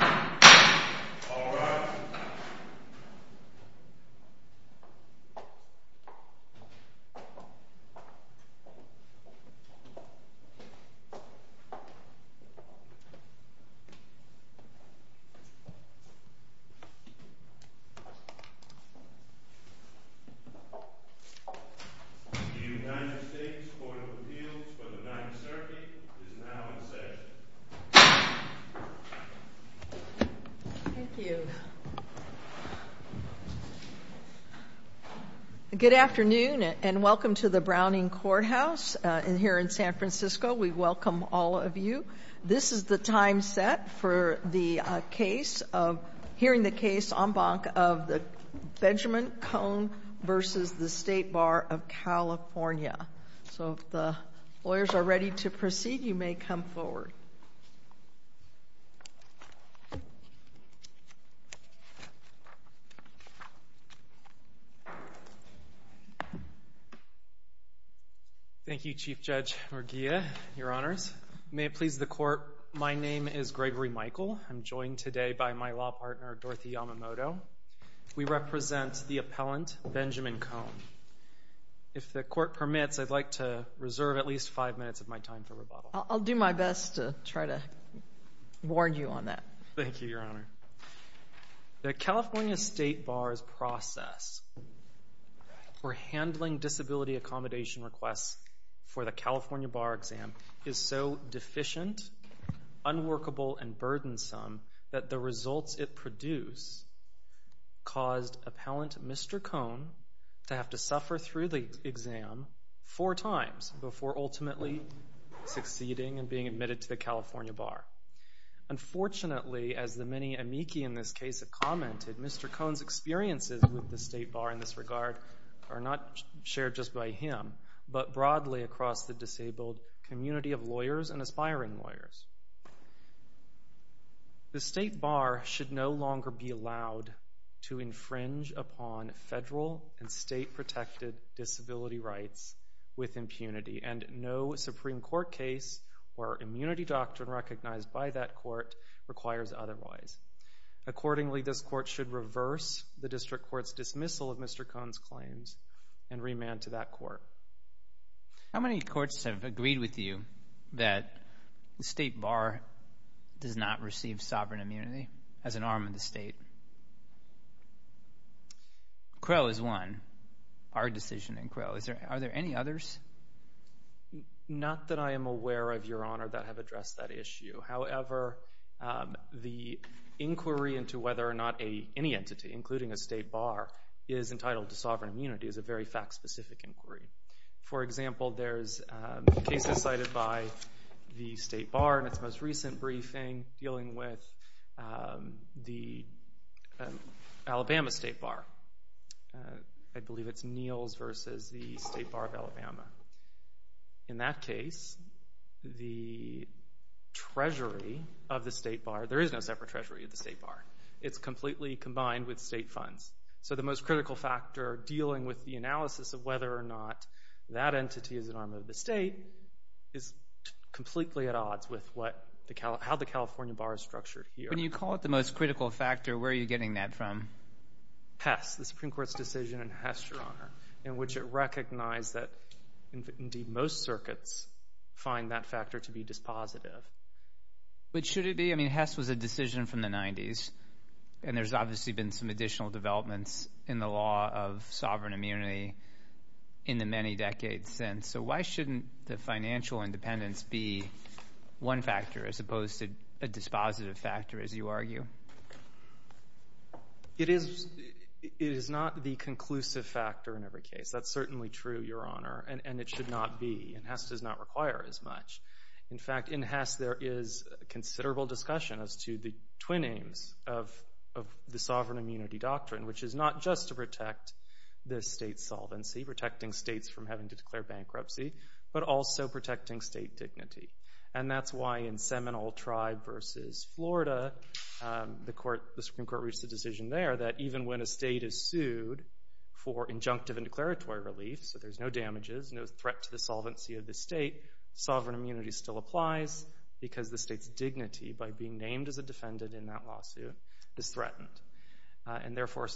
All rise. The United States Court of Appeals for the Ninth Circuit is now in session. Thank you. Good afternoon and welcome to the Browning Courthouse here in San Francisco. We welcome all of you. This is the time set for hearing the case en banc of Benjamin Kohn v. State Bar of California. So if the lawyers are ready to proceed, you may come forward. Thank you. Thank you, Chief Judge Murguia. Your Honors, may it please the Court, my name is Gregory Michael. I'm joined today by my law partner, Dorothy Yamamoto. We represent the appellant, Benjamin Kohn. If the Court permits, I'd like to reserve at least five minutes of my time for rebuttal. I'll do my best to try to warn you on that. Thank you, Your Honor. The California State Bar's process for handling disability accommodation requests for the California Bar Exam is so deficient, unworkable, and burdensome that the results it produced caused appellant, Mr. Kohn, to have to suffer through the exam four times before ultimately succeeding and being admitted to the California Bar. Unfortunately, as the many amici in this case have commented, Mr. Kohn's experiences with the State Bar in this regard are not shared just by him, but broadly across the disabled community of lawyers and aspiring lawyers. The State Bar should no longer be allowed to infringe upon federal and state-protected disability rights with impunity, and no Supreme Court case or immunity doctrine recognized by that court requires otherwise. Accordingly, this Court should reverse the District Court's dismissal of Mr. Kohn's claims and remand to that Court. How many courts have agreed with you that the State Bar does not receive sovereign immunity as an arm of the state? Crow is one, our decision in Crow. Are there any others? Not that I am aware of, Your Honor, that have addressed that issue. However, the inquiry into whether or not any entity, including a State Bar, is entitled to sovereign immunity is a very fact-specific inquiry. For example, there's cases cited by the State Bar in its most recent briefing dealing with the Alabama State Bar. I believe it's Neal's versus the State Bar of Alabama. In that case, the Treasury of the State Bar, there is no separate Treasury of the State Bar. It's completely combined with state funds. So the most critical factor dealing with the analysis of whether or not that entity is an arm of the state is completely at odds with how the California Bar is structured here. When you call it the most critical factor, where are you getting that from? Hess, the Supreme Court's decision in Hess, Your Honor, in which it recognized that, indeed, most circuits find that factor to be dispositive. But should it be? I mean, Hess was a decision from the 90s, and there's obviously been some additional developments in the law of sovereign immunity in the many decades since. So why shouldn't the financial independence be one factor as opposed to a dispositive factor, as you argue? It is not the conclusive factor in every case. That's certainly true, Your Honor, and it should not be. And Hess does not require as much. In fact, in Hess, there is considerable discussion as to the twin aims of the sovereign immunity doctrine, which is not just to protect the state's solvency, protecting states from having to declare bankruptcy, but also protecting state dignity. And that's why in Seminole Tribe v. Florida, the Supreme Court reached a decision there that even when a state is sued for injunctive and declaratory relief, so there's no damages, no threat to the solvency of the state, sovereign immunity still applies, because the state's dignity, by being named as a defendant in that lawsuit, is threatened. And therefore,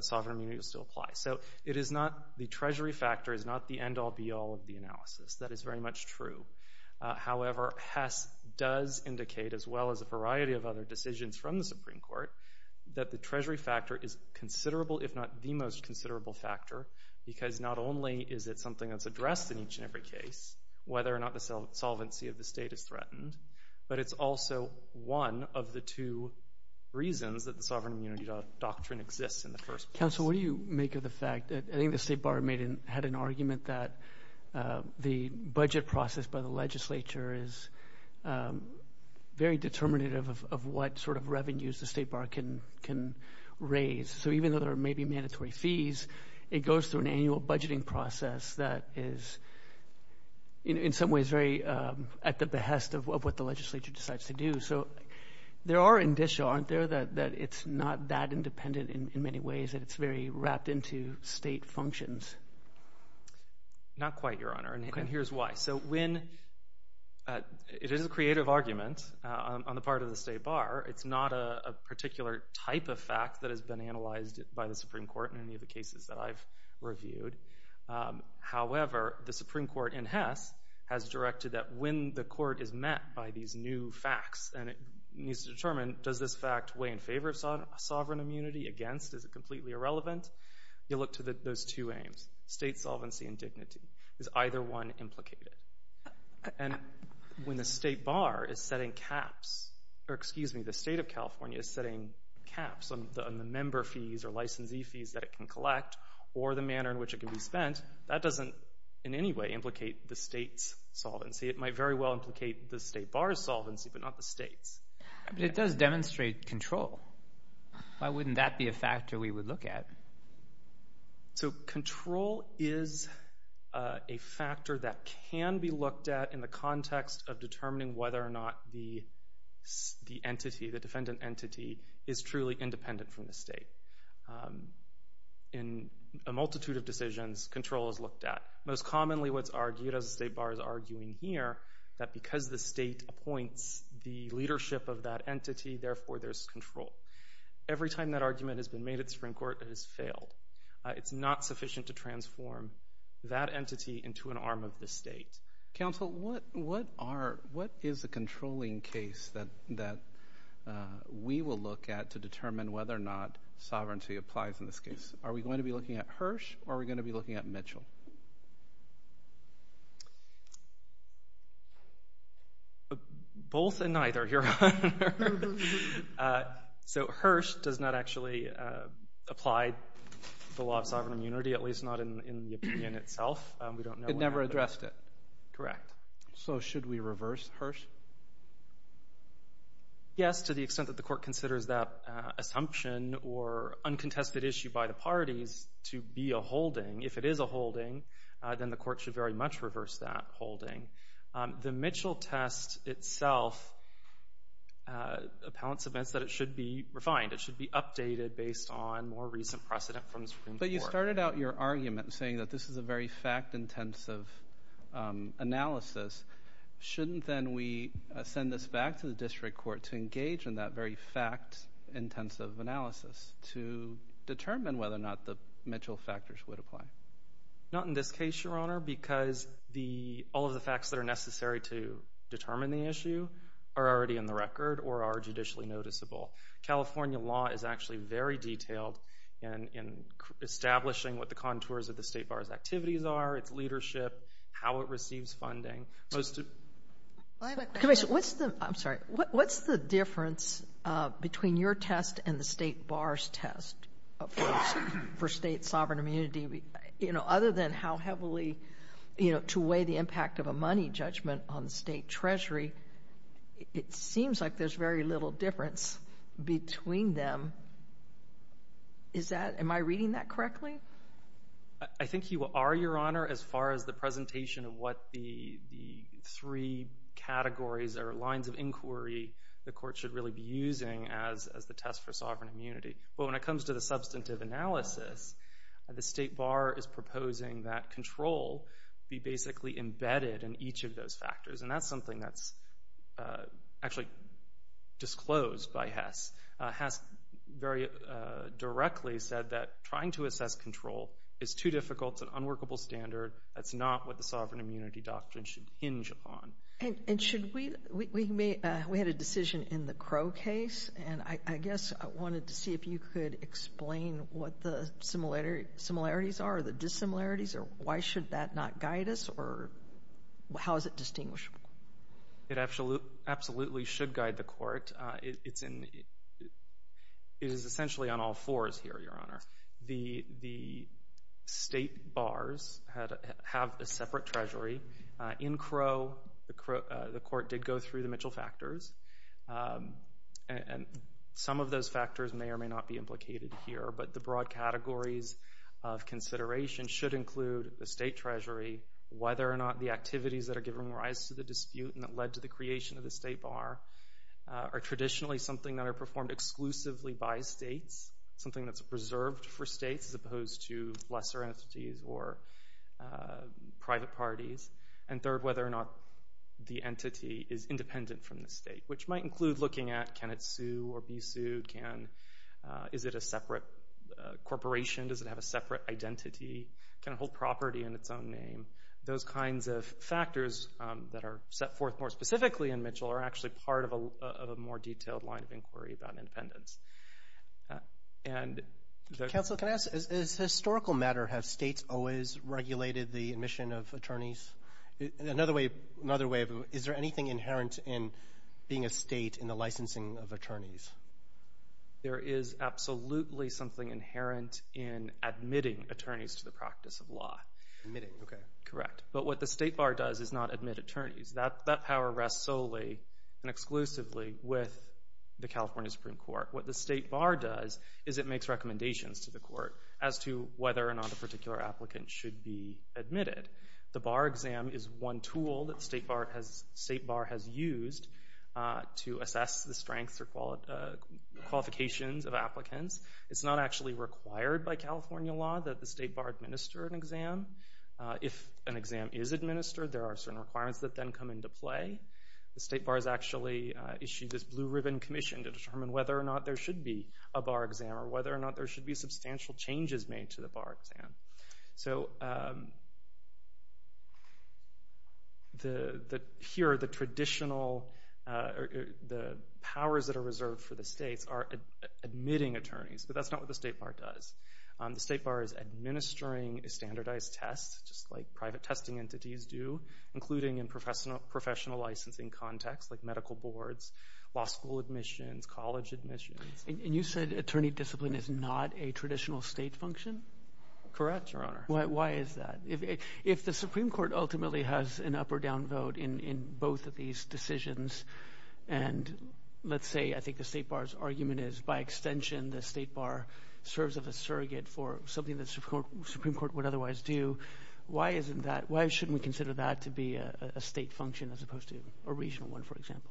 sovereign immunity will still apply. So the Treasury factor is not the end-all, be-all of the analysis. That is very much true. However, Hess does indicate, as well as a variety of other decisions from the Supreme Court, that the Treasury factor is considerable, if not the most considerable factor, because not only is it something that's addressed in each and every case, whether or not the solvency of the state is threatened, but it's also one of the two reasons that the sovereign immunity doctrine exists in the first place. Council, what do you make of the fact that I think the State Bar had an argument that the budget process by the legislature is very determinative of what sort of revenues the State Bar can raise. So even though there may be mandatory fees, it goes through an annual budgeting process that is, in some ways, very at the behest of what the legislature decides to do. So there are indicia, aren't there, that it's not that independent in many ways, that it's very wrapped into state functions. Not quite, Your Honor, and here's why. So when it is a creative argument on the part of the State Bar, it's not a particular type of fact that has been analyzed by the Supreme Court in any of the cases that I've reviewed. However, the Supreme Court in Hess has directed that when the court is met by these new facts and it needs to determine, does this fact weigh in favor of sovereign immunity, against, is it completely irrelevant? You look to those two aims, state solvency and dignity. Is either one implicated? And when the State Bar is setting caps, or excuse me, the State of California is setting caps on the member fees or licensee fees that it can collect or the manner in which it can be spent, that doesn't in any way implicate the State's solvency. It might very well implicate the State Bar's solvency, but not the State's. But it does demonstrate control. Why wouldn't that be a factor we would look at? So control is a factor that can be looked at in the context of determining whether or not the entity, the defendant entity, is truly independent from the State. In a multitude of decisions, control is looked at. Most commonly what's argued, as the State Bar is arguing here, that because the State appoints the leadership of that entity, therefore there's control. Every time that argument has been made at the Supreme Court, it has failed. It's not sufficient to transform that entity into an arm of the State. Counsel, what is the controlling case that we will look at to determine whether or not sovereignty applies in this case? Are we going to be looking at Hirsch or are we going to be looking at Mitchell? Both and neither, Your Honor. So Hirsch does not actually apply the law of sovereign immunity, at least not in the opinion itself. It never addressed it. Correct. So should we reverse Hirsch? Yes, to the extent that the Court considers that assumption or uncontested issue by the parties to be a holding. If it is a holding, then the Court should very much reverse that holding. The Mitchell test itself, appellants admits that it should be refined. But you started out your argument saying that this is a very fact-intensive analysis. Shouldn't then we send this back to the District Court to engage in that very fact-intensive analysis to determine whether or not the Mitchell factors would apply? Not in this case, Your Honor, because all of the facts that are necessary to determine the issue are already in the record or are judicially noticeable. California law is actually very detailed in establishing what the contours of the state bar's activities are, its leadership, how it receives funding. I have a question. I'm sorry. What's the difference between your test and the state bar's test for state sovereign immunity? Other than how heavily to weigh the impact of a money judgment on the state treasury, it seems like there's very little difference between them. Am I reading that correctly? I think you are, Your Honor, as far as the presentation of what the three categories or lines of inquiry the Court should really be using as the test for sovereign immunity. But when it comes to the substantive analysis, the state bar is proposing that control be basically embedded in each of those factors, and that's something that's actually disclosed by Hess. Hess very directly said that trying to assess control is too difficult. It's an unworkable standard. That's not what the sovereign immunity doctrine should hinge upon. And we had a decision in the Crow case, and I guess I wanted to see if you could explain what the similarities are or the dissimilarities or why should that not guide us, or how is it distinguishable? It absolutely should guide the Court. It is essentially on all fours here, Your Honor. The state bars have a separate treasury. In Crow, the Court did go through the Mitchell factors, and some of those factors may or may not be implicated here, but the broad categories of consideration should include the state treasury, whether or not the activities that are giving rise to the dispute and that led to the creation of the state bar are traditionally something that are performed exclusively by states, something that's preserved for states as opposed to lesser entities or private parties, and third, whether or not the entity is independent from the state, which might include looking at can it sue or be sued, can is it a separate corporation, does it have a separate identity, can it hold property in its own name. Those kinds of factors that are set forth more specifically in Mitchell are actually part of a more detailed line of inquiry about independence. Counsel, can I ask, as a historical matter, have states always regulated the admission of attorneys? Another way of, is there anything inherent in being a state in the licensing of attorneys? There is absolutely something inherent in admitting attorneys to the practice of law. Admitting, okay. Correct. But what the state bar does is not admit attorneys. That power rests solely and exclusively with the California Supreme Court. What the state bar does is it makes recommendations to the court as to whether or not a particular applicant should be admitted. The bar exam is one tool that the state bar has used to assess the strengths or qualifications of applicants. It's not actually required by California law that the state bar administer an exam. If an exam is administered, there are certain requirements that then come into play. The state bar has actually issued this blue-ribbon commission to determine whether or not there should be a bar exam or whether or not there should be substantial changes made to the bar exam. So here are the traditional powers that are reserved for the states are admitting attorneys, but that's not what the state bar does. The state bar is administering a standardized test, just like private testing entities do, including in professional licensing contexts like medical boards, law school admissions, college admissions. And you said attorney discipline is not a traditional state function? Correct, Your Honor. Why is that? If the Supreme Court ultimately has an up or down vote in both of these decisions and let's say I think the state bar's argument is by extension the state bar serves as a surrogate for something the Supreme Court would otherwise do, why shouldn't we consider that to be a state function as opposed to a regional one, for example?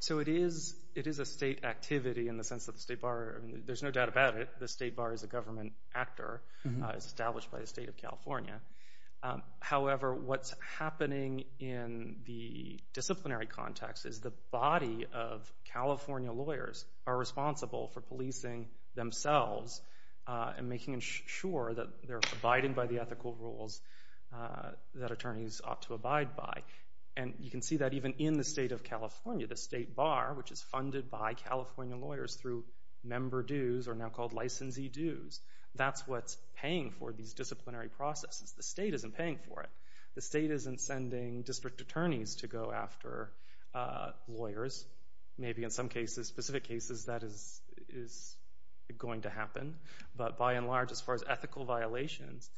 So it is a state activity in the sense that the state bar, there's no doubt about it, the state bar is a government actor established by the state of California. However, what's happening in the disciplinary context is the body of California lawyers are responsible for policing themselves and making sure that they're abiding by the ethical rules that attorneys ought to abide by. And you can see that even in the state of California. The state bar, which is funded by California lawyers through member dues, are now called licensee dues. That's what's paying for these disciplinary processes. The state isn't paying for it. The state isn't sending district attorneys to go after lawyers. Maybe in some cases, specific cases, that is going to happen. But by and large, as far as ethical violations,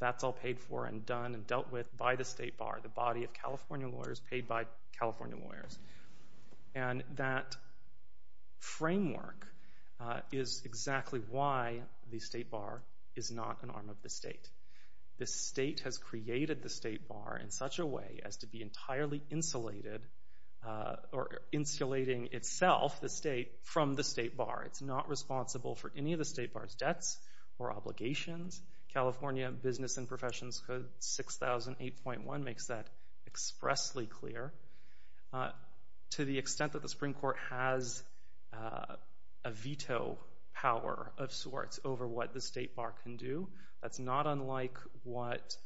that's all paid for and done and dealt with by the state bar, the body of California lawyers paid by California lawyers. And that framework is exactly why the state bar is not an arm of the state. The state has created the state bar in such a way as to be entirely insulated or insulating itself, the state, from the state bar. It's not responsible for any of the state bar's debts or obligations. California Business and Professions Code 6008.1 makes that expressly clear. To the extent that the Supreme Court has a veto power of sorts over what the state bar can do, that's not unlike what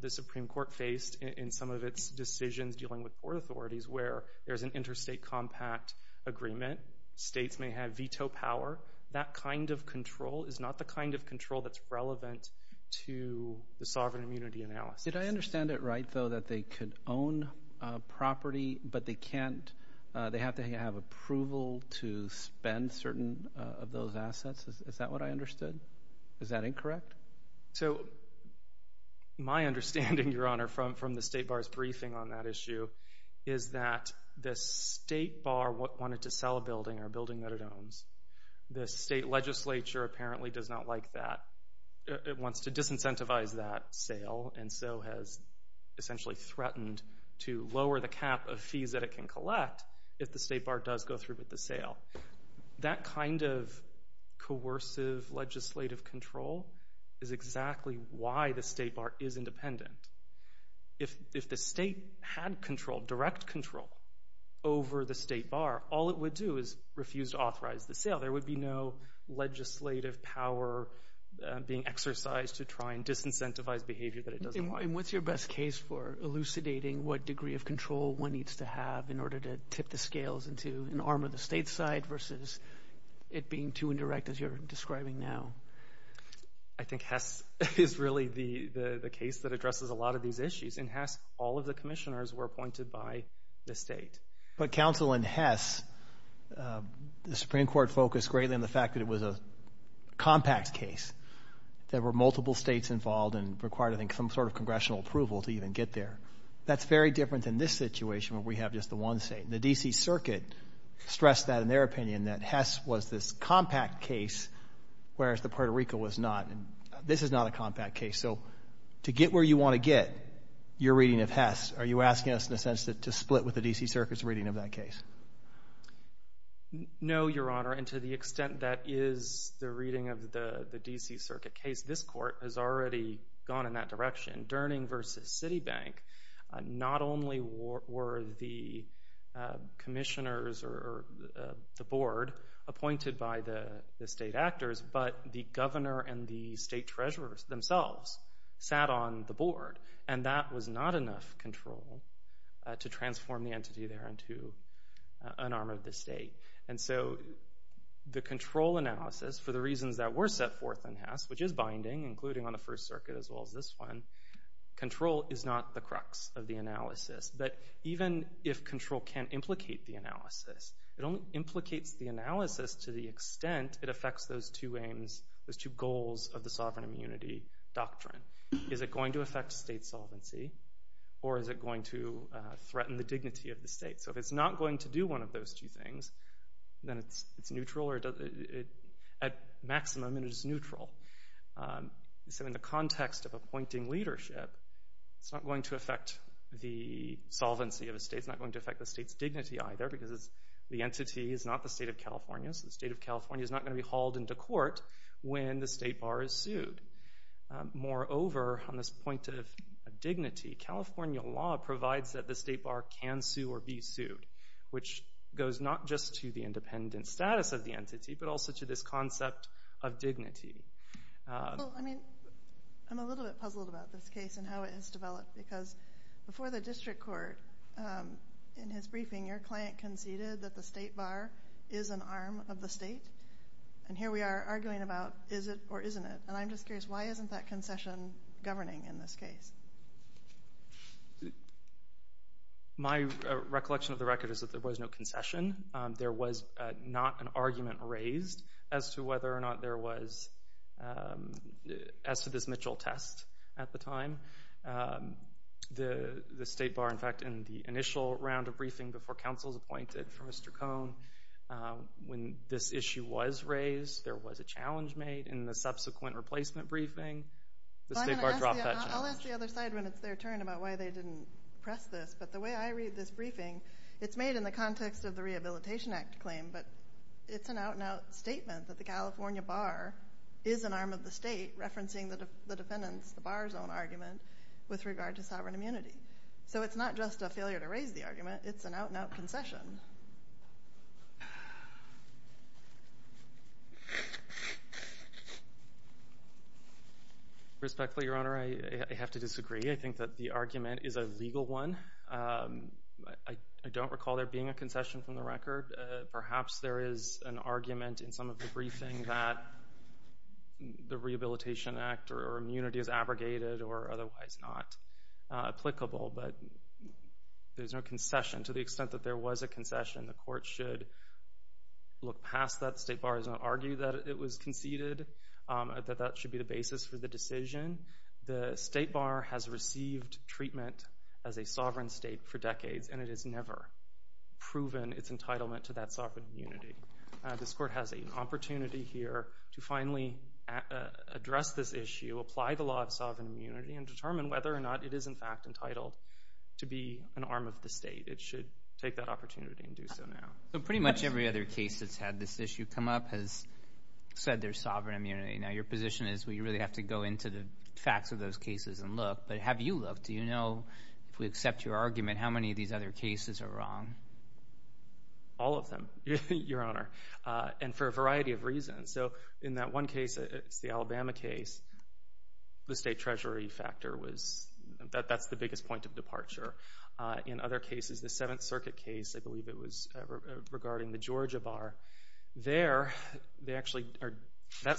the Supreme Court faced in some of its decisions dealing with court authorities where there's an interstate compact agreement. States may have veto power. That kind of control is not the kind of control that's relevant to the sovereign immunity analysis. Did I understand it right, though, that they could own property, but they have to have approval to spend certain of those assets? Is that what I understood? Is that incorrect? So my understanding, Your Honor, from the state bar's briefing on that issue, is that the state bar wanted to sell a building or a building that it owns. The state legislature apparently does not like that. It wants to disincentivize that sale and so has essentially threatened to lower the cap of fees that it can collect if the state bar does go through with the sale. That kind of coercive legislative control is exactly why the state bar is independent. If the state had control, direct control over the state bar, all it would do is refuse to authorize the sale. There would be no legislative power being exercised to try and disincentivize behavior that it doesn't like. And what's your best case for elucidating what degree of control one needs to have in order to tip the scales and to armor the state side versus it being too indirect as you're describing now? I think Hess is really the case that addresses a lot of these issues. In Hess, all of the commissioners were appointed by the state. But counsel in Hess, the Supreme Court focused greatly on the fact that it was a compact case. There were multiple states involved and required, I think, some sort of congressional approval to even get there. That's very different than this situation where we have just the one state. The D.C. Circuit stressed that in their opinion that Hess was this compact case whereas the Puerto Rico was not. This is not a compact case. So to get where you want to get, your reading of Hess, are you asking us in a sense to split with the D.C. Circuit's reading of that case? No, Your Honor, and to the extent that is the reading of the D.C. Circuit case, this court has already gone in that direction. Durning versus Citibank, not only were the commissioners or the board appointed by the state actors, but the governor and the state treasurers themselves sat on the board, and that was not enough control to transform the entity there into an arm of the state. And so the control analysis, for the reasons that were set forth in Hess, which is binding, including on the First Circuit as well as this one, control is not the crux of the analysis. But even if control can implicate the analysis, it only implicates the analysis to the extent it affects those two aims, those two goals of the sovereign immunity doctrine. Is it going to affect state solvency, or is it going to threaten the dignity of the state? So if it's not going to do one of those two things, then it's at maximum and it's neutral. So in the context of appointing leadership, it's not going to affect the solvency of a state, it's not going to affect the state's dignity either, because the entity is not the state of California, so the state of California is not going to be hauled into court when the state bar is sued. Moreover, on this point of dignity, California law provides that the state bar can sue or be sued, which goes not just to the independent status of the entity, but also to this concept of dignity. Well, I mean, I'm a little bit puzzled about this case and how it has developed, because before the district court, in his briefing, your client conceded that the state bar is an arm of the state, and here we are arguing about is it or isn't it, and I'm just curious, why isn't that concession governing in this case? My recollection of the record is that there was no concession. There was not an argument raised as to whether or not there was, as to this Mitchell test at the time. The state bar, in fact, in the initial round of briefing before counsel was appointed for Mr. Cohn, when this issue was raised, there was a challenge made in the subsequent replacement briefing. I'll ask the other side when it's their turn about why they didn't press this, but the way I read this briefing, it's made in the context of the Rehabilitation Act claim, but it's an out-and-out statement that the California bar is an arm of the state, referencing the defendants, the bar's own argument, with regard to sovereign immunity. So it's not just a failure to raise the argument. It's an out-and-out concession. Respectfully, Your Honor, I have to disagree. I think that the argument is a legal one. I don't recall there being a concession from the record. Perhaps there is an argument in some of the briefing that the Rehabilitation Act or immunity is abrogated or otherwise not applicable, but there's no concession. To the extent that there was a concession, the court should look past that. The state bar has not argued that it was conceded, that that should be the basis for the decision. The state bar has received treatment as a sovereign state for decades, and it has never proven its entitlement to that sovereign immunity. This court has an opportunity here to finally address this issue, apply the law of sovereign immunity, and determine whether or not it is, in fact, entitled to be an arm of the state. It should take that opportunity and do so now. So pretty much every other case that's had this issue come up has said there's sovereign immunity. Now, your position is we really have to go into the facts of those cases and look, but have you looked? Do you know, if we accept your argument, how many of these other cases are wrong? All of them, Your Honor, and for a variety of reasons. In that one case, the Alabama case, the state treasury factor, that's the biggest point of departure. In other cases, the Seventh Circuit case, I believe it was regarding the Georgia bar. That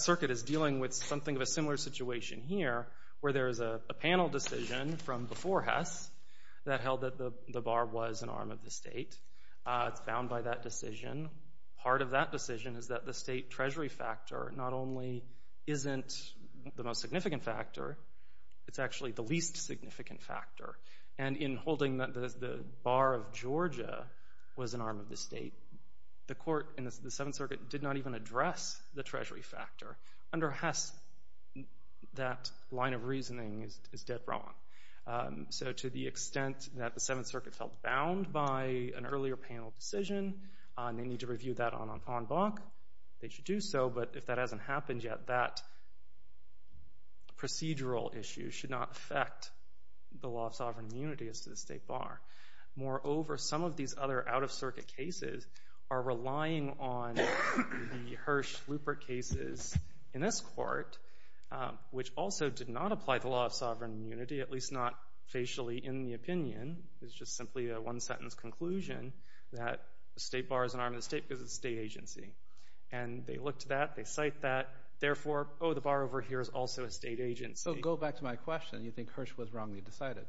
circuit is dealing with something of a similar situation here where there is a panel decision from before Hess that held that the bar was an arm of the state. It's bound by that decision. Part of that decision is that the state treasury factor not only isn't the most significant factor, it's actually the least significant factor. And in holding that the bar of Georgia was an arm of the state, the court in the Seventh Circuit did not even address the treasury factor. Under Hess, that line of reasoning is dead wrong. So to the extent that the Seventh Circuit felt bound by an earlier panel decision, they need to review that en banc. They should do so, but if that hasn't happened yet, that procedural issue should not affect the law of sovereign immunity as to the state bar. Moreover, some of these other out-of-circuit cases are relying on the Hirsch-Lupert cases in this court, which also did not apply the law of sovereign immunity, at least not facially in the opinion. It's just simply a one-sentence conclusion that the state bar is an arm of the state because it's a state agency. And they looked at that, they cite that. Therefore, oh, the bar over here is also a state agency. So go back to my question. You think Hirsch was wrongly decided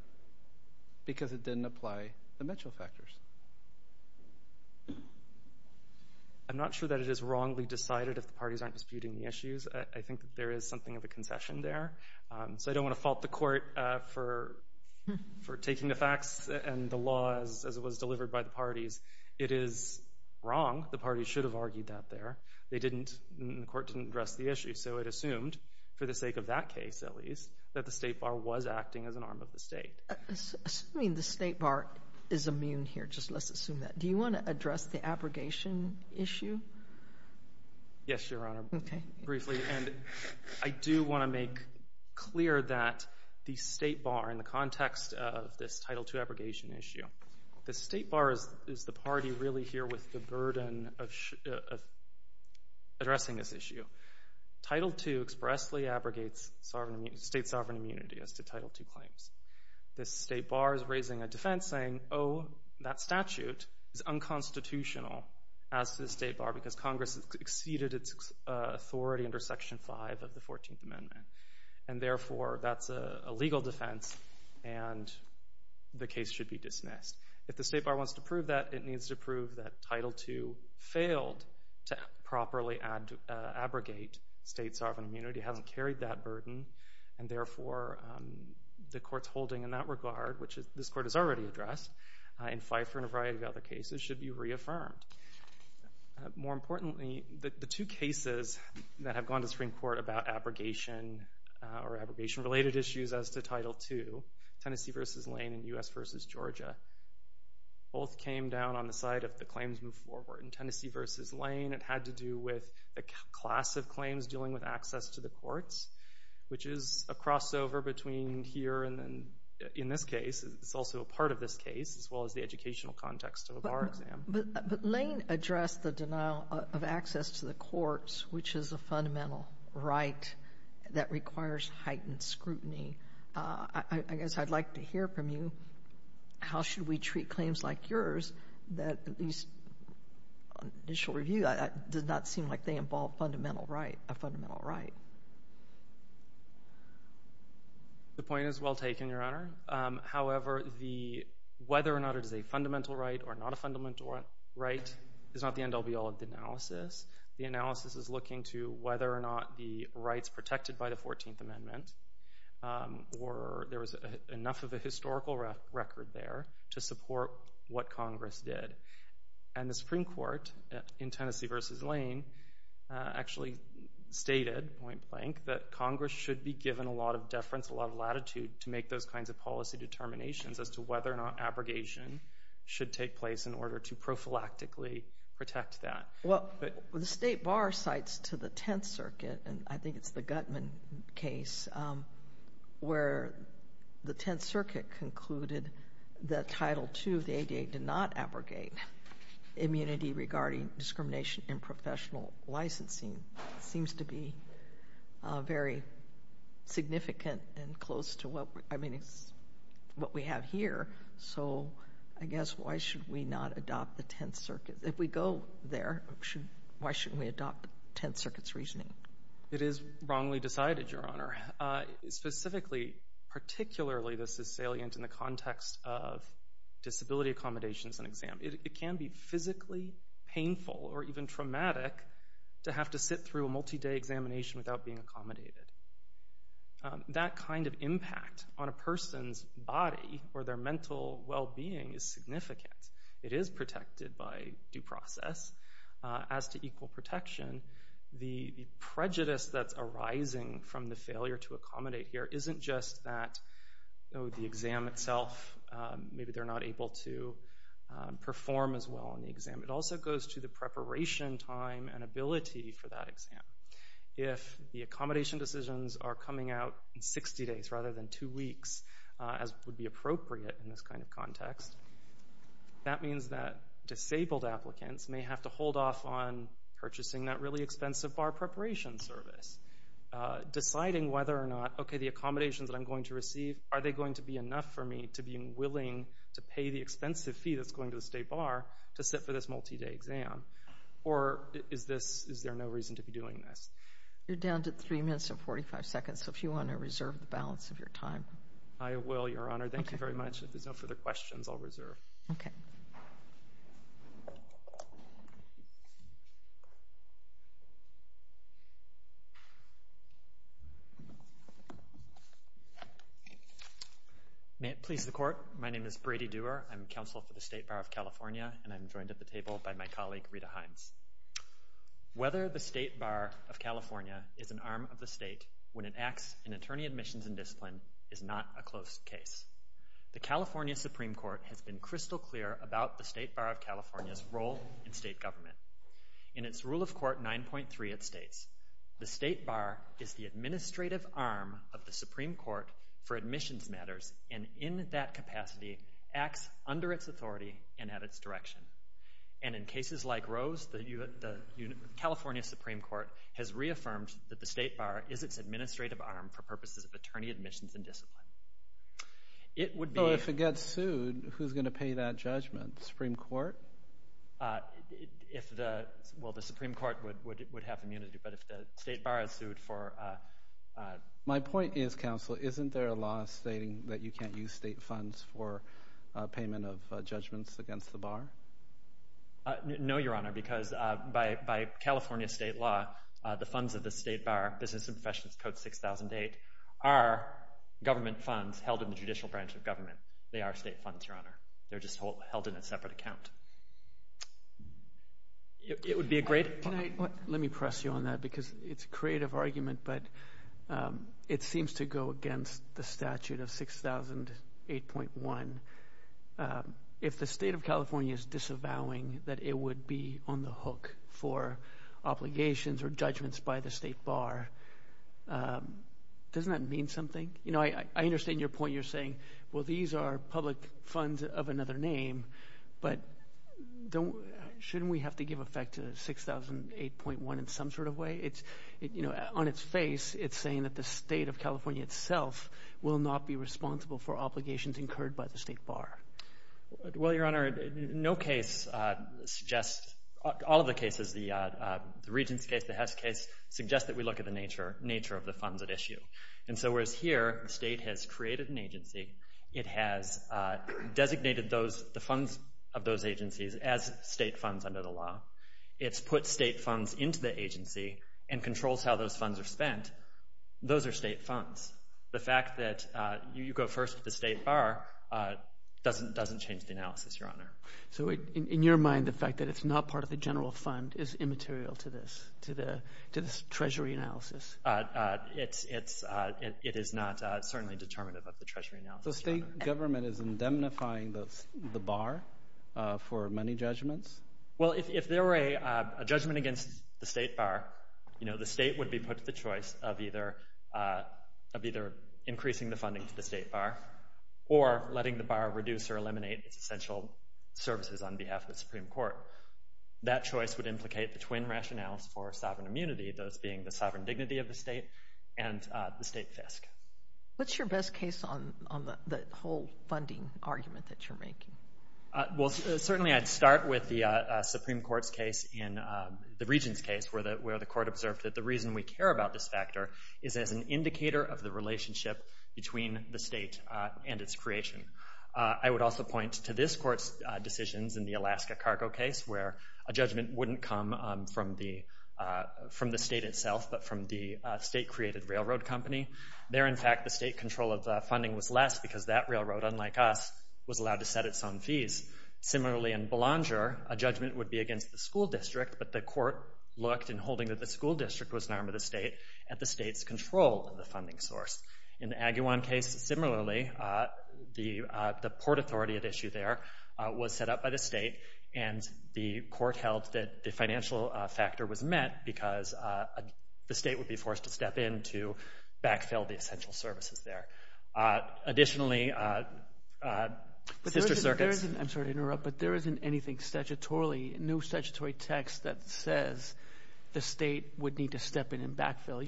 because it didn't apply the Mitchell factors. I'm not sure that it is wrongly decided if the parties aren't disputing the issues. I think that there is something of a concession there. So I don't want to fault the court for taking the facts and the laws as it was delivered by the parties. It is wrong. The parties should have argued that there. They didn't, and the court didn't address the issue. So it assumed, for the sake of that case at least, that the state bar was acting as an arm of the state. Assuming the state bar is immune here, just let's assume that, do you want to address the abrogation issue? Yes, Your Honor, briefly. And I do want to make clear that the state bar, in the context of this Title II abrogation issue, the state bar is the party really here with the burden of addressing this issue. Title II expressly abrogates state sovereign immunity as to Title II claims. The state bar is raising a defense saying, oh, that statute is unconstitutional as to the state bar because Congress has exceeded its authority under Section 5 of the 14th Amendment. And, therefore, that's a legal defense and the case should be dismissed. If the state bar wants to prove that, it needs to prove that Title II failed to properly abrogate state sovereign immunity, hasn't carried that burden, and, therefore, the court's holding in that regard, which this court has already addressed in Fifer and a variety of other cases, should be reaffirmed. More importantly, the two cases that have gone to Supreme Court about abrogation or abrogation-related issues as to Title II, Tennessee v. Lane and U.S. v. Georgia, both came down on the side of the claims move forward. In Tennessee v. Lane, it had to do with a class of claims dealing with access to the courts, which is a crossover between here and then in this case. It's also a part of this case as well as the educational context of a bar exam. But Lane addressed the denial of access to the courts, which is a fundamental right that requires heightened scrutiny. I guess I'd like to hear from you how should we treat claims like yours that at least on initial review does not seem like they involve a fundamental right. The point is well taken, Your Honor. However, whether or not it is a fundamental right or not a fundamental right is not the end all be all of the analysis. The analysis is looking to whether or not the rights protected by the 14th Amendment or there was enough of a historical record there to support what Congress did. And the Supreme Court in Tennessee v. Lane actually stated, point blank, that Congress should be given a lot of deference, a lot of latitude to make those kinds of policy determinations as to whether or not abrogation should take place in order to prophylactically protect that. Well, the State Bar cites to the Tenth Circuit, and I think it's the Gutman case, where the Tenth Circuit concluded that Title II of the ADA did not abrogate immunity regarding discrimination in professional licensing. It seems to be very significant and close to what we have here. So I guess why should we not adopt the Tenth Circuit? If we go there, why shouldn't we adopt the Tenth Circuit's reasoning? It is wrongly decided, Your Honor. Specifically, particularly this is salient in the context of disability accommodations and exam. It can be physically painful or even traumatic to have to sit through a multi-day examination without being accommodated. That kind of impact on a person's body or their mental well-being is significant. It is protected by due process as to equal protection. The prejudice that's arising from the failure to accommodate here isn't just that the exam itself, maybe they're not able to perform as well on the exam. It also goes to the preparation time and ability for that exam. If the accommodation decisions are coming out in 60 days rather than 2 weeks, as would be appropriate in this kind of context, that means that disabled applicants may have to hold off on purchasing that really expensive bar preparation service. Deciding whether or not the accommodations that I'm going to receive, are they going to be enough for me to be willing to pay the expensive fee that's going to the state bar to sit for this multi-day exam? Or is there no reason to be doing this? You're down to 3 minutes and 45 seconds, so if you want to reserve the balance of your time. I will, Your Honor. Thank you very much. If there's no further questions, I'll reserve. May it please the Court. My name is Brady Dewar. I'm Counsel for the State Bar of California, and I'm joined at the table by my colleague, Rita Hines. Whether the State Bar of California is an arm of the state when it acts in attorney admissions and discipline is not a close case. The California Supreme Court has been crystal clear about the State Bar of California's role in state government. In its Rule of Court 9.3, it states, The State Bar is the administrative arm of the Supreme Court for admissions matters and in that capacity acts under its authority and at its direction. And in cases like Rose, the California Supreme Court has reaffirmed that the State Bar is its administrative arm for purposes of attorney admissions and discipline. If it gets sued, who's going to pay that judgment? The Supreme Court? Well, the Supreme Court would have immunity, but if the State Bar is sued for... My point is, Counsel, isn't there a law stating that you can't use state funds for payment of judgments against the bar? No, Your Honor, because by California state law, the funds of the State Bar, Business and Professions Code 6008, are government funds held in the judicial branch of government. They are state funds, Your Honor. They're just held in a separate account. It would be a great... Let me press you on that because it's a creative argument, but it seems to go against the statute of 6008.1. If the State of California is disavowing that it would be on the hook for obligations or judgments by the State Bar, doesn't that mean something? I understand your point. You're saying, well, these are public funds of another name, but shouldn't we have to give effect to 6008.1 in some sort of way? On its face, it's saying that the State of California itself will not be responsible for obligations incurred by the State Bar. Well, Your Honor, no case suggests... All of the cases, the Regents case, the Hess case, suggest that we look at the nature of the funds at issue. Whereas here, the state has created an agency. It has designated the funds of those agencies as state funds under the law. It's put state funds into the agency and controls how those funds are spent. Those are state funds. The fact that you go first to the State Bar doesn't change the analysis, Your Honor. In your mind, the fact that it's not part of the general fund is immaterial to this, to this treasury analysis? It is not certainly determinative of the treasury analysis, Your Honor. So state government is indemnifying the Bar for money judgments? Well, if there were a judgment against the State Bar, the state would be put to the choice of either increasing the funding to the State Bar or letting the Bar reduce or eliminate its essential services on behalf of the Supreme Court. That choice would implicate the twin rationales for sovereign immunity, those being the sovereign dignity of the state and the state fisc. What's your best case on the whole funding argument that you're making? Well, certainly I'd start with the Supreme Court's case in the Regents' case where the court observed that the reason we care about this factor is as an indicator of the relationship between the state and its creation. I would also point to this court's decisions in the Alaska cargo case where a judgment wouldn't come from the state itself, but from the state-created railroad company. There, in fact, the state control of funding was less because that railroad, unlike us, was allowed to set its own fees. Similarly, in Belanger, a judgment would be against the school district, but the court looked, in holding that the school district was an arm of the state, at the state's control of the funding source. In the Agawam case, similarly, the port authority at issue there was set up by the state, and the court held that the financial factor was met because the state would be forced to step in to backfill the essential services there. Additionally, sister circuits— I'm sorry to interrupt, but there isn't anything statutorily, no statutory text that says the state would need to step in and backfill.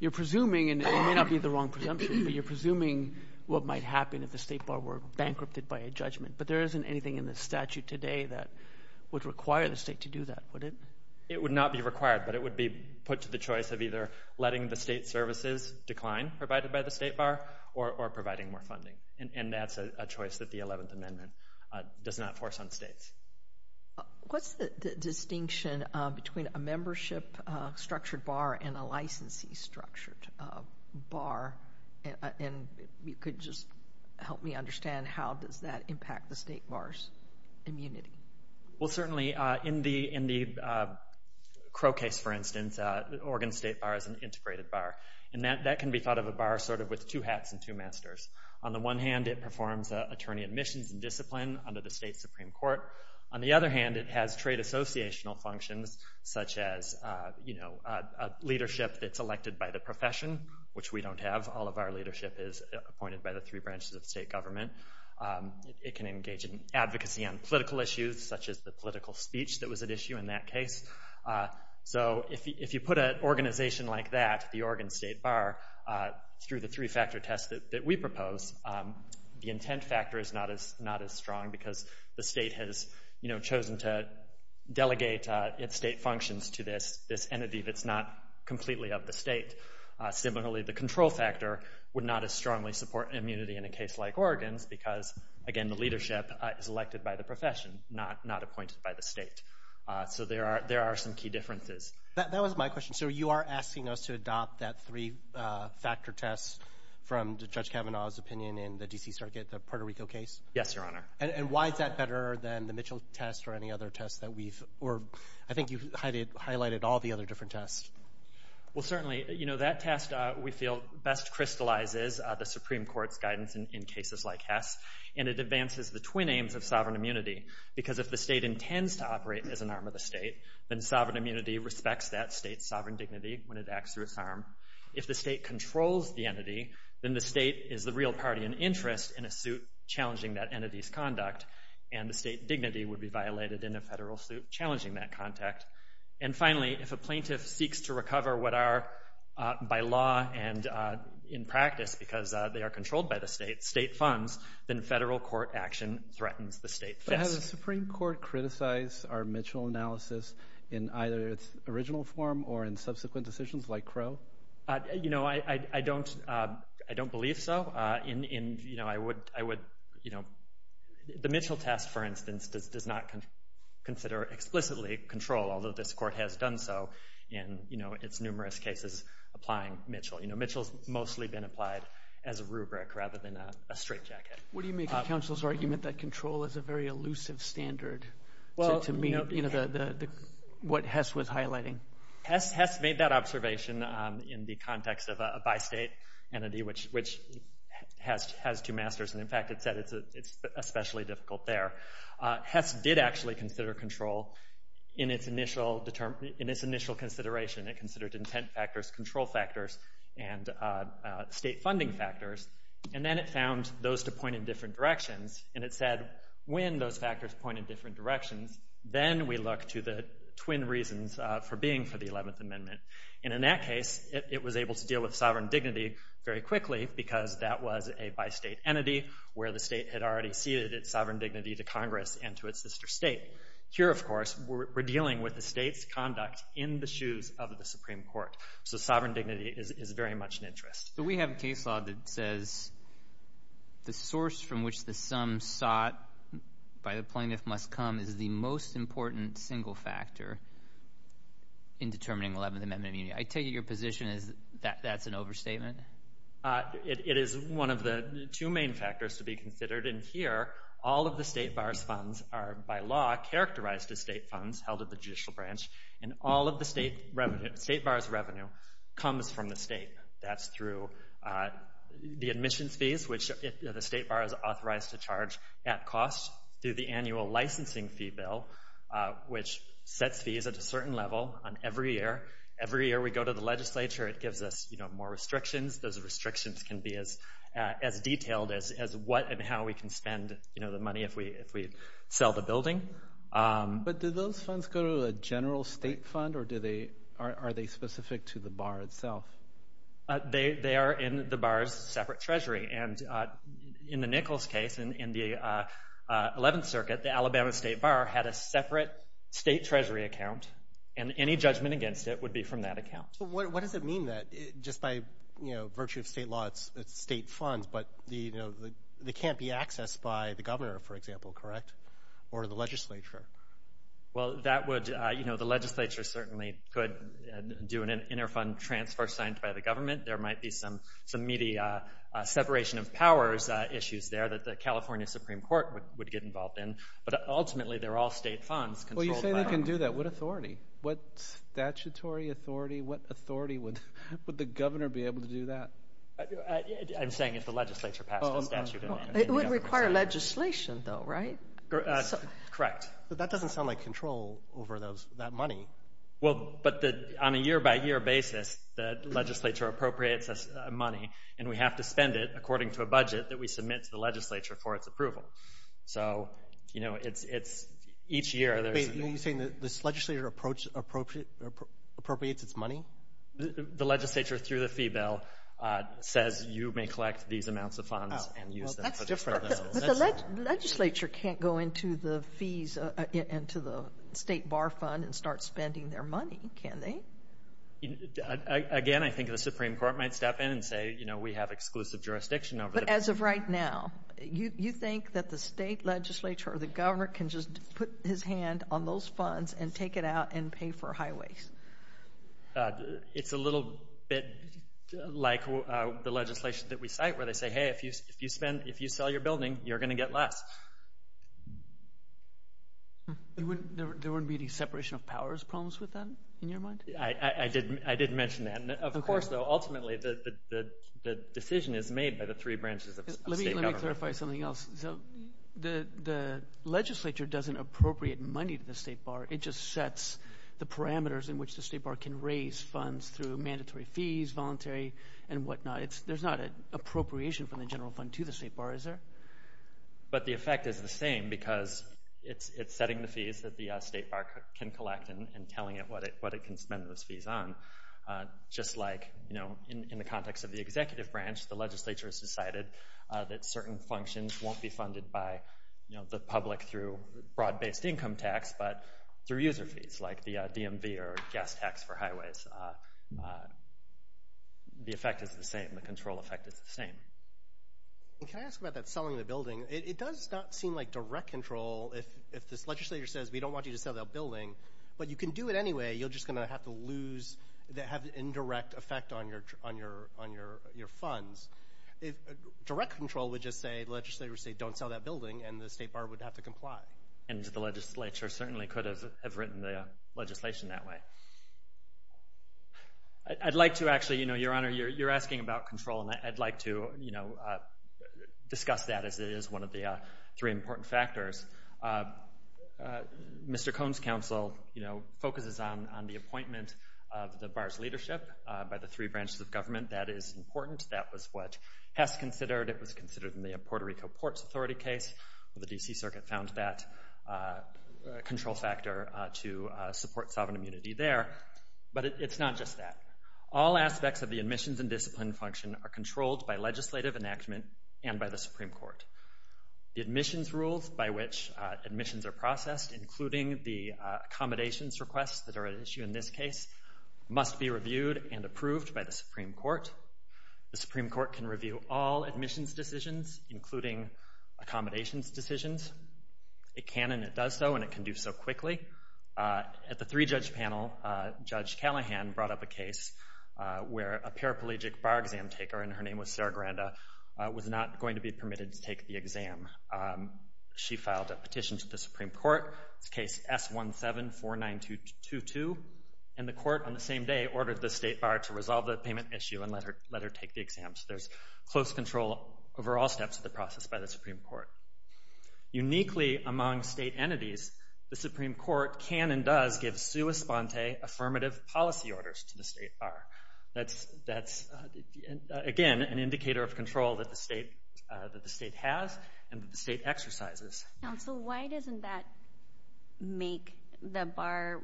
You're presuming, and it may not be the wrong presumption, but you're presuming what might happen if the state bar were bankrupted by a judgment. But there isn't anything in the statute today that would require the state to do that, would it? It would not be required, but it would be put to the choice of either letting the state services decline, provided by the state bar, or providing more funding. And that's a choice that the 11th Amendment does not force on states. What's the distinction between a membership-structured bar and a licensee-structured bar? And if you could just help me understand, how does that impact the state bar's immunity? Well, certainly in the Crow case, for instance, Oregon's state bar is an integrated bar. And that can be thought of as a bar sort of with two hats and two masters. On the one hand, it performs attorney admissions and discipline under the state Supreme Court. On the other hand, it has trade associational functions, such as leadership that's elected by the profession, which we don't have. All of our leadership is appointed by the three branches of state government. It can engage in advocacy on political issues, such as the political speech that was at issue in that case. So if you put an organization like that, the Oregon state bar, through the three-factor test that we propose, the intent factor is not as strong because the state has chosen to delegate its state functions to this entity that's not completely of the state. Similarly, the control factor would not as strongly support immunity in a case like Oregon's because, again, the leadership is elected by the profession, not appointed by the state. So there are some key differences. That was my question. So you are asking us to adopt that three-factor test from Judge Kavanaugh's opinion in the D.C. Circuit, the Puerto Rico case? Yes, Your Honor. And why is that better than the Mitchell test or any other test that we've, or I think you highlighted all the other different tests. Well, certainly. You know, that test, we feel, best crystallizes the Supreme Court's guidance in cases like Hess, and it advances the twin aims of sovereign immunity because if the state intends to operate as an arm of the state, then sovereign immunity respects that state's sovereign dignity when it acts through its arm. If the state controls the entity, then the state is the real party in interest in a suit challenging that entity's conduct, and the state dignity would be violated in a federal suit challenging that contact. And finally, if a plaintiff seeks to recover what are, by law and in practice because they are controlled by the state, state funds, then federal court action threatens the state's best. Does the Supreme Court criticize our Mitchell analysis in either its original form or in subsequent decisions like Crow? You know, I don't believe so. In, you know, I would, you know, the Mitchell test, for instance, does not consider explicitly control, although this court has done so in, you know, its numerous cases applying Mitchell. You know, Mitchell's mostly been applied as a rubric rather than a straitjacket. What do you make of counsel's argument that control is a very elusive standard to meet, you know, what Hess was highlighting? Hess made that observation in the context of a bi-state entity which has two masters, and in fact it said it's especially difficult there. Hess did actually consider control in its initial consideration. It considered intent factors, control factors, and state funding factors, and then it found those to point in different directions, and it said when those factors point in different directions, then we look to the twin reasons for being for the 11th Amendment, and in that case it was able to deal with sovereign dignity very quickly because that was a bi-state entity where the state had already ceded its sovereign dignity to Congress and to its sister state. Here, of course, we're dealing with the state's conduct in the shoes of the Supreme Court, so sovereign dignity is very much an interest. So we have a case law that says the source from which the sum sought by the plaintiff must come is the most important single factor in determining 11th Amendment immunity. I take it your position is that that's an overstatement? It is one of the two main factors to be considered, and here all of the state bar's funds are by law characterized as state funds held at the judicial branch, and all of the state bar's revenue comes from the state. That's through the admissions fees, which the state bar is authorized to charge at cost, through the annual licensing fee bill, which sets fees at a certain level on every year. Every year we go to the legislature, it gives us more restrictions. Those restrictions can be as detailed as what and how we can spend the money if we sell the building. But do those funds go to a general state fund, or are they specific to the bar itself? They are in the bar's separate treasury, and in the Nichols case in the 11th Circuit, the Alabama state bar had a separate state treasury account, and any judgment against it would be from that account. So what does it mean that just by virtue of state law it's state funds, but they can't be accessed by the governor, for example, correct? Or the legislature? Well, the legislature certainly could do an inter-fund transfer signed by the government. There might be some meaty separation of powers issues there that the California Supreme Court would get involved in. But ultimately, they're all state funds. Well, you say they can do that. What authority? What statutory authority? What authority would the governor be able to do that? I'm saying if the legislature passed a statute. It wouldn't require legislation though, right? Correct. But that doesn't sound like control over that money. Well, but on a year-by-year basis, the legislature appropriates money, and we have to spend it according to a budget that we submit to the legislature for its approval. So, you know, it's each year. Wait, are you saying this legislature appropriates its money? The legislature, through the fee bill, says you may collect these amounts of funds and use them. But the legislature can't go into the state bar fund and start spending their money, can they? Again, I think the Supreme Court might step in and say, you know, we have exclusive jurisdiction over this. But as of right now, you think that the state legislature or the governor can just put his hand on those funds and take it out and pay for highways? It's a little bit like the legislation that we cite where they say, hey, if you sell your building, you're going to get less. There wouldn't be any separation of powers problems with that in your mind? I did mention that. Of course, though, ultimately the decision is made by the three branches of state government. Let me clarify something else. So the legislature doesn't appropriate money to the state bar. It just sets the parameters in which the state bar can raise funds through mandatory fees, voluntary, and whatnot. There's not an appropriation from the general fund to the state bar, is there? But the effect is the same because it's setting the fees that the state bar can collect and telling it what it can spend those fees on. Just like, you know, in the context of the executive branch, the legislature has decided that certain functions won't be funded by the public through broad-based income tax, but through user fees like the DMV or gas tax for highways. The effect is the same. The control effect is the same. Can I ask about that selling the building? It does not seem like direct control if this legislature says, we don't want you to sell that building, but you can do it anyway. You're just going to have to lose, have indirect effect on your funds. Direct control would just say, the legislature would say, don't sell that building, and the state bar would have to comply. And the legislature certainly could have written the legislation that way. I'd like to actually, you know, Your Honor, you're asking about control, and I'd like to discuss that as it is one of the three important factors. Mr. Cohn's counsel focuses on the appointment of the bar's leadership by the three branches of government. That is important. That was what Hess considered. It was considered in the Puerto Rico Ports Authority case. The D.C. Circuit found that control factor to support sovereign immunity there. But it's not just that. All aspects of the admissions and discipline function are controlled by legislative enactment and by the Supreme Court. The admissions rules by which admissions are processed, including the accommodations requests that are at issue in this case, must be reviewed and approved by the Supreme Court. The Supreme Court can review all admissions decisions, including accommodations decisions. It can and it does so, and it can do so quickly. At the three-judge panel, Judge Callahan brought up a case where a paraplegic bar exam taker, and her name was Sarah Granda, was not going to be permitted to take the exam. She filed a petition to the Supreme Court. It's case S1749222, and the court on the same day ordered the state bar to resolve the payment issue and let her take the exam. So there's close control over all steps of the process by the Supreme Court. Uniquely among state entities, the Supreme Court can and does give sua sponte affirmative policy orders to the state bar. That's, again, an indicator of control that the state has and that the state exercises. Counsel, why doesn't that make the bar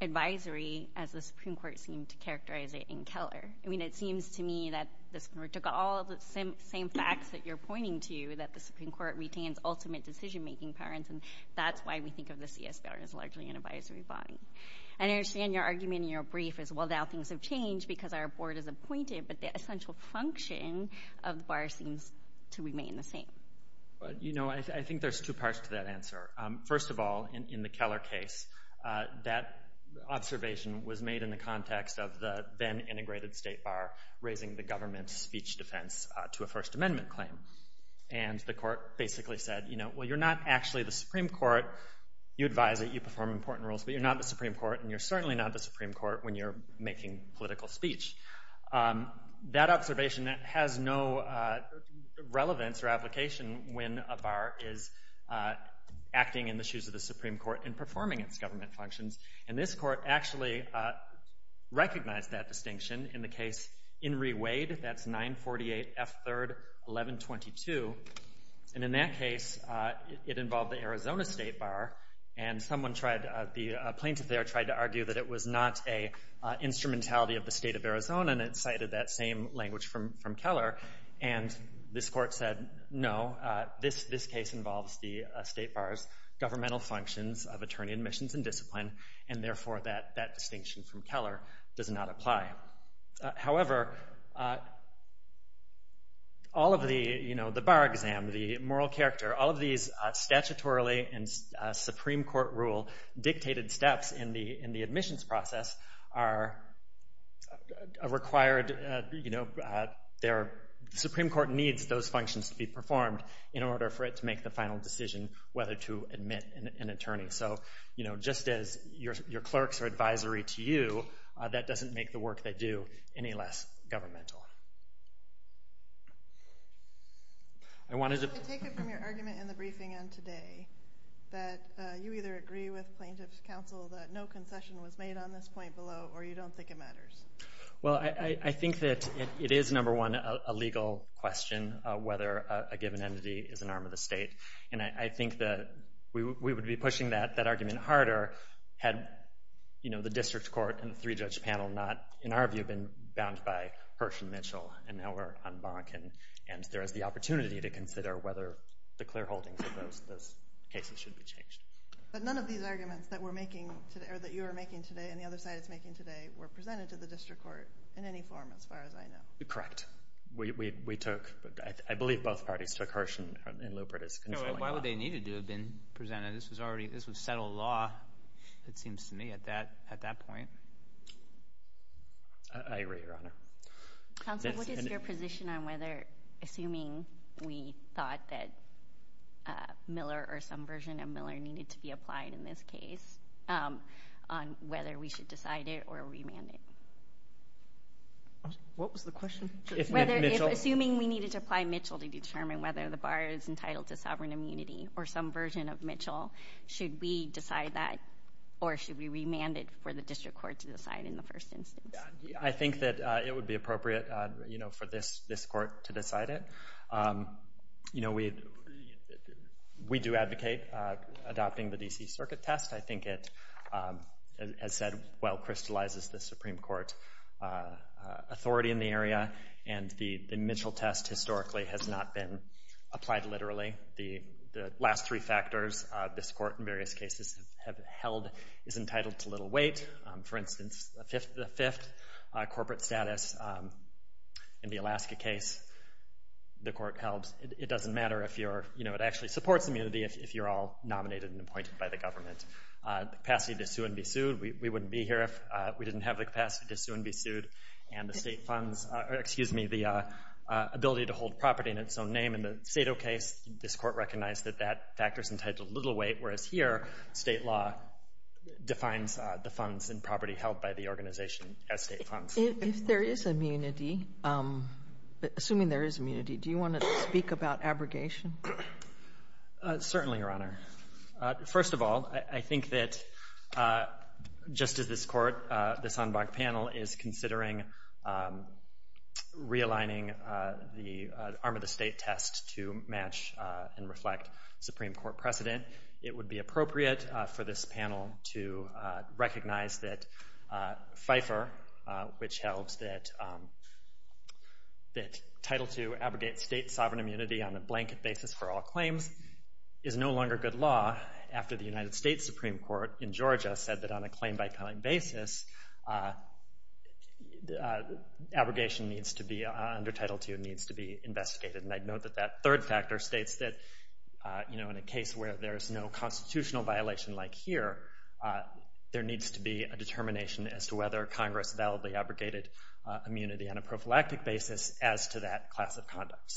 advisory, as the Supreme Court seemed to characterize it, in color? I mean, it seems to me that the Supreme Court took all of the same facts that you're pointing to, that the Supreme Court retains ultimate decision-making power, and that's why we think of the CS bar as largely an advisory body. And I understand your argument in your brief is, well, now things have changed because our board is appointed, but the essential function of the bar seems to remain the same. You know, I think there's two parts to that answer. First of all, in the Keller case, that observation was made in the context of the then-integrated state bar raising the government's speech defense to a First Amendment claim. And the court basically said, you know, well, you're not actually the Supreme Court. You advise it, you perform important roles, but you're not the Supreme Court, and you're certainly not the Supreme Court when you're making political speech. That observation has no relevance or application when a bar is acting in the shoes of the Supreme Court and performing its government functions. And this court actually recognized that distinction in the case Enri Wade. That's 948 F. 3rd, 1122. And in that case, it involved the Arizona state bar, and a plaintiff there tried to argue that it was not an instrumentality of the state of Arizona, and it cited that same language from Keller. And this court said, no, this case involves the state bar's governmental functions of attorney admissions and discipline, and therefore that distinction from Keller does not apply. However, all of the, you know, the bar exam, the moral character, all of these statutorily and Supreme Court rule dictated steps in the admissions process are required, you know, the Supreme Court needs those functions to be performed in order for it to make the final decision whether to admit an attorney. And so, you know, just as your clerks are advisory to you, that doesn't make the work they do any less governmental. I take it from your argument in the briefing on today that you either agree with plaintiff's counsel that no concession was made on this point below, or you don't think it matters. Well, I think that it is, number one, a legal question whether a given entity is an arm of the state. And I think that we would be pushing that argument harder had, you know, the district court and the three-judge panel not, in our view, been bound by Hirsch and Mitchell. And now we're on Bonk, and there is the opportunity to consider whether the clear holdings of those cases should be changed. But none of these arguments that we're making today, or that you are making today, and the other side is making today were presented to the district court in any form as far as I know. Correct. We took, I believe both parties took Hirsch and Lupert as controlling law. Why would they need it to have been presented? This was settled law, it seems to me, at that point. I agree, Your Honor. Counsel, what is your position on whether, assuming we thought that Miller or some version of Miller needed to be applied in this case, on whether we should decide it or remand it? What was the question? Assuming we needed to apply Mitchell to determine whether the bar is entitled to sovereign immunity or some version of Mitchell, should we decide that or should we remand it for the district court to decide in the first instance? I think that it would be appropriate, you know, for this court to decide it. You know, we do advocate adopting the D.C. Circuit test. I think it, as said, well crystallizes the Supreme Court authority in the area, and the Mitchell test historically has not been applied literally. The last three factors this court in various cases have held is entitled to little weight. For instance, the fifth corporate status in the Alaska case, the court held it doesn't matter if you're, you know, it actually supports immunity if you're all nominated and appointed by the government. The capacity to sue and be sued, we wouldn't be here if we didn't have the capacity to sue and be sued. And the state funds, or excuse me, the ability to hold property in its own name in the Sado case, this court recognized that that factors entitled to little weight, whereas here state law defines the funds and property held by the organization as state funds. If there is immunity, assuming there is immunity, do you want to speak about abrogation? Certainly, Your Honor. First of all, I think that just as this court, this en banc panel, is considering realigning the arm of the state test to match and reflect Supreme Court precedent, it would be appropriate for this panel to recognize that FIFER, which held that title II abrogates state sovereign immunity on a blanket basis for all claims, is no longer good law after the United States Supreme Court in Georgia said that on a claim-by-claim basis, abrogation needs to be, under title II, needs to be investigated. And I'd note that that third factor states that, you know, in a case where there is no constitutional violation like here, there needs to be a determination as to whether Congress validly abrogated immunity on a prophylactic basis as to that class of conduct.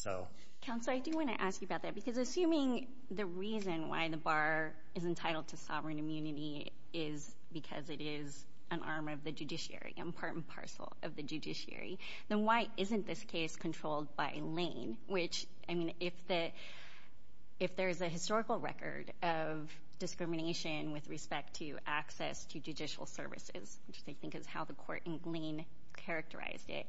Counsel, I do want to ask you about that, because assuming the reason why the bar is entitled to sovereign immunity is because it is an arm of the judiciary and part and parcel of the judiciary, then why isn't this case controlled by Lane? Which, I mean, if there is a historical record of discrimination with respect to access to judicial services, which I think is how the court in Lane characterized it,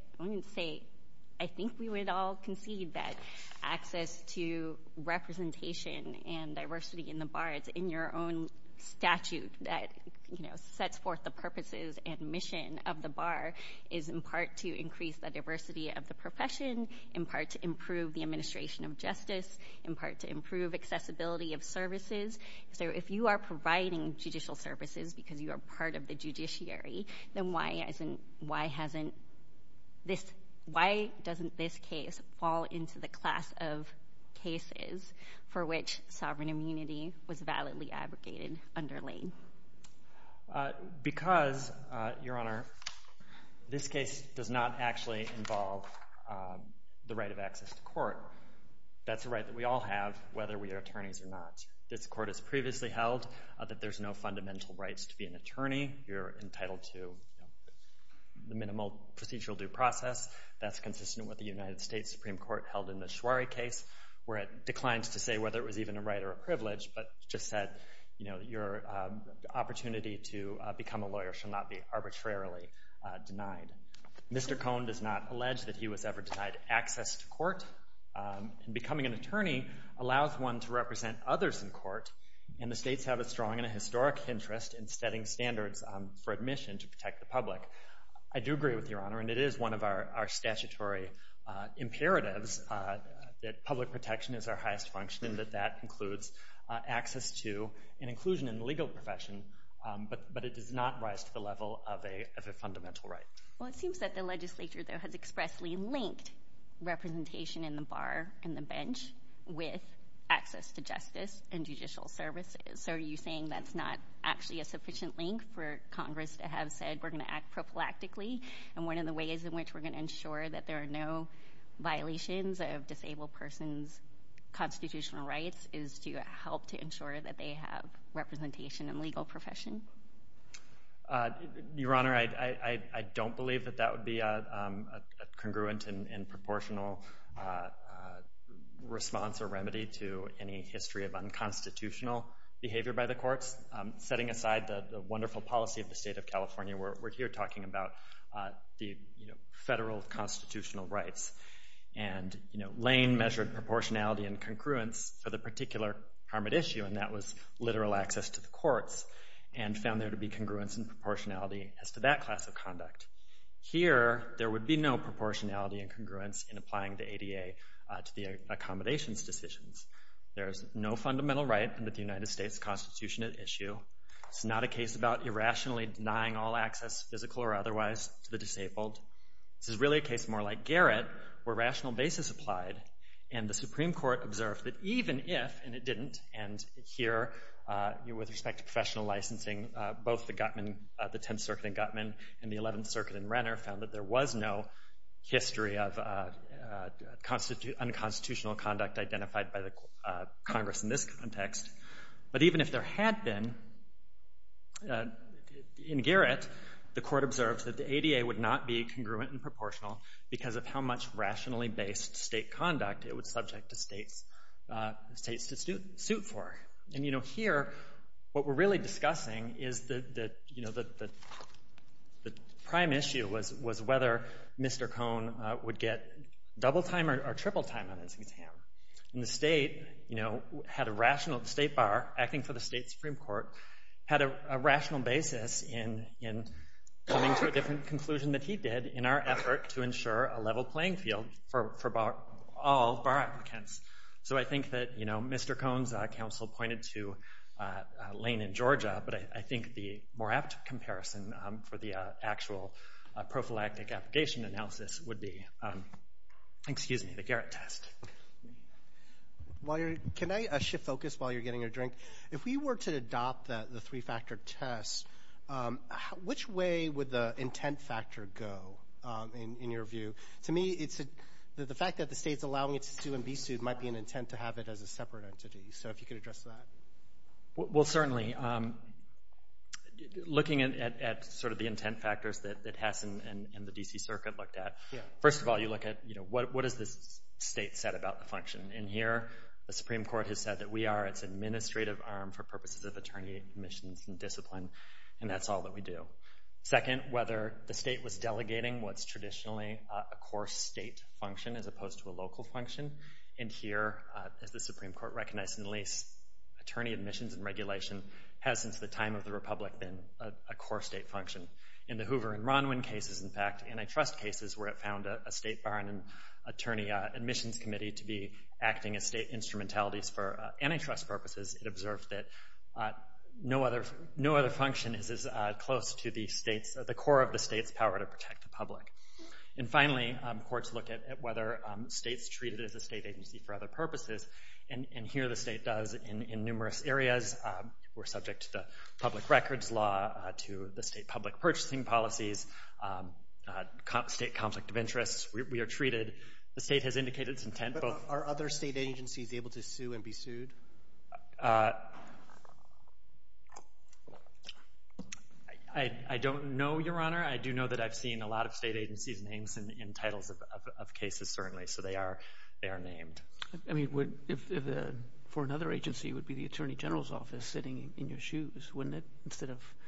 I think we would all concede that access to representation and diversity in the bar, it's in your own statute that, you know, sets forth the purposes and mission of the bar, is in part to increase the diversity of the profession, in part to improve the administration of justice, in part to improve accessibility of services. So if you are providing judicial services because you are part of the judiciary, then why doesn't this case fall into the class of cases for which sovereign immunity was validly abrogated under Lane? Because, Your Honor, this case does not actually involve the right of access to court. That's a right that we all have, whether we are attorneys or not. This court has previously held that there's no fundamental rights to be an attorney. You're entitled to the minimal procedural due process. That's consistent with what the United States Supreme Court held in the Schwari case, where it declines to say whether it was even a right or a privilege, but just said, you know, your opportunity to become a lawyer should not be arbitrarily denied. Mr. Cohn does not allege that he was ever denied access to court. And becoming an attorney allows one to represent others in court, and the states have a strong and a historic interest in setting standards for admission to protect the public. I do agree with you, Your Honor, and it is one of our statutory imperatives that public protection is our highest function and that that includes access to and inclusion in the legal profession, but it does not rise to the level of a fundamental right. Well, it seems that the legislature, though, has expressly linked representation in the bar and the bench with access to justice and judicial services. So are you saying that's not actually a sufficient link for Congress to have said we're going to act prophylactically? And one of the ways in which we're going to ensure that there are no violations of disabled persons' constitutional rights is to help to ensure that they have representation in the legal profession? Your Honor, I don't believe that that would be a congruent and proportional response or remedy to any history of unconstitutional behavior by the courts. Setting aside the wonderful policy of the state of California, we're here talking about the federal constitutional rights, and Lane measured proportionality and congruence for the particular harm at issue, and that was literal access to the courts, and found there to be congruence and proportionality as to that class of conduct. Here, there would be no proportionality and congruence in applying the ADA to the accommodations decisions. There is no fundamental right in the United States Constitution at issue. It's not a case about irrationally denying all access, physical or otherwise, to the disabled. This is really a case more like Garrett, where rational basis applied, and the Supreme Court observed that even if, and it didn't, and here, with respect to professional licensing, both the 10th Circuit in Gutman and the 11th Circuit in Renner found that there was no history of unconstitutional conduct identified by the Congress in this context, but even if there had been, in Garrett, the court observed that the ADA would not be congruent and proportional because of how much rationally based state conduct it was subject to states to suit for. Here, what we're really discussing is that the prime issue was whether Mr. Cohn would get double time or triple time on his exam. The State Bar, acting for the State Supreme Court, had a rational basis in coming to a different conclusion that he did in our effort to ensure a level playing field for all bar applicants. So I think that Mr. Cohn's counsel pointed to Lane and Georgia, but I think the more apt comparison for the actual prophylactic application analysis would be the Garrett test. Can I shift focus while you're getting your drink? If we were to adopt the three-factor test, which way would the intent factor go, in your view? To me, the fact that the state's allowing it to sue and be sued might be an intent to have it as a separate entity, so if you could address that. Well, certainly. Looking at the intent factors that Hess and the D.C. Circuit looked at, first of all, you look at what has the state said about the function, and here the Supreme Court has said that we are its administrative arm for purposes of attorney commissions and discipline, and that's all that we do. Second, whether the state was delegating what's traditionally a core state function as opposed to a local function, and here, as the Supreme Court recognized in the lease, attorney admissions and regulation has since the time of the Republic been a core state function. In the Hoover and Ronwin cases, in fact, antitrust cases where it found a state bar and an attorney admissions committee to be acting as state instrumentalities for antitrust purposes, it observed that no other function is as close to the core of the state's power to protect the public. And finally, courts look at whether states treat it as a state agency for other purposes, and here the state does in numerous areas. We're subject to the public records law, to the state public purchasing policies, state conflict of interest. We are treated. The state has indicated its intent. But are other state agencies able to sue and be sued? I don't know, Your Honor. I do know that I've seen a lot of state agencies' names in titles of cases, certainly, so they are named. I mean, for another agency, it would be the Attorney General's Office sitting in your shoes, wouldn't it?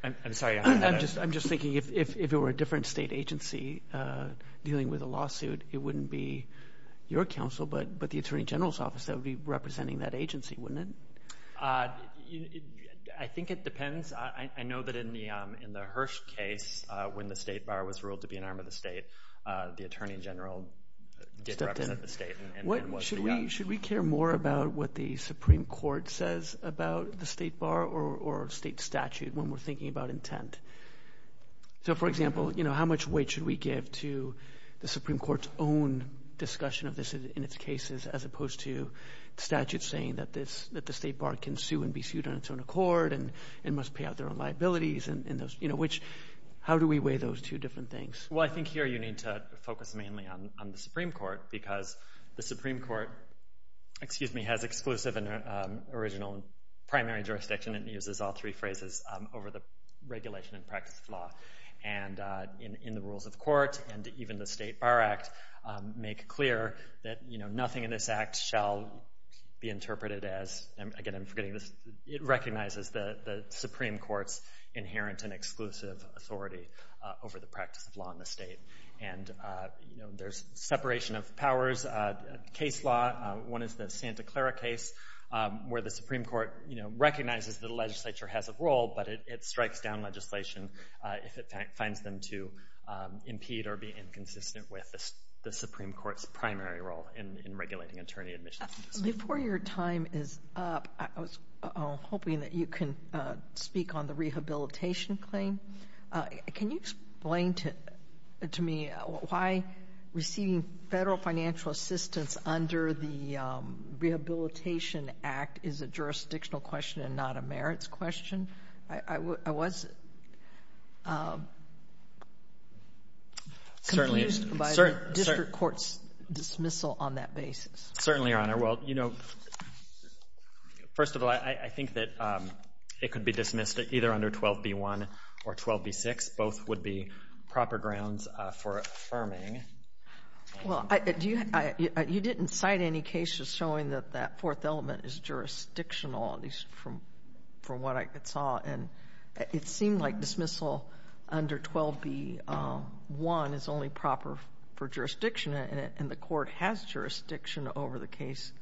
I'm sorry. I'm just thinking if it were a different state agency dealing with a lawsuit, it wouldn't be your counsel but the Attorney General's Office that would be representing that agency, wouldn't it? I think it depends. I know that in the Hirsch case when the state bar was ruled to be an arm of the state, the Attorney General did represent the state. Should we care more about what the Supreme Court says about the state bar or state statute when we're thinking about intent? So, for example, how much weight should we give to the Supreme Court's own discussion of this in its cases as opposed to statutes saying that the state bar can sue and be sued on its own accord and must pay out their own liabilities? How do we weigh those two different things? Well, I think here you need to focus mainly on the Supreme Court because the Supreme Court has exclusive and original primary jurisdiction and uses all three phrases over the regulation and practice of law. In the rules of court and even the state bar act make clear that nothing in this act shall be interpreted as, again, I'm forgetting this, it recognizes the Supreme Court's inherent and exclusive authority over the practice of law in the state. There's separation of powers, case law. One is the Santa Clara case where the Supreme Court recognizes that the legislature has a role but it strikes down legislation if it finds them to impede or be inconsistent with the Supreme Court's primary role in regulating attorney admissions. Before your time is up, I was hoping that you can speak on the rehabilitation claim. Can you explain to me why receiving federal financial assistance under the Rehabilitation Act is a jurisdictional question and not a merits question? I was confused by the district court's dismissal on that basis. Certainly, Your Honor. Well, you know, first of all, I think that it could be dismissed either under 12b-1 or 12b-6. Both would be proper grounds for affirming. Well, you didn't cite any cases showing that that fourth element is jurisdictional, at least from what I saw. And it seemed like dismissal under 12b-1 is only proper for jurisdiction and the court has jurisdiction over the case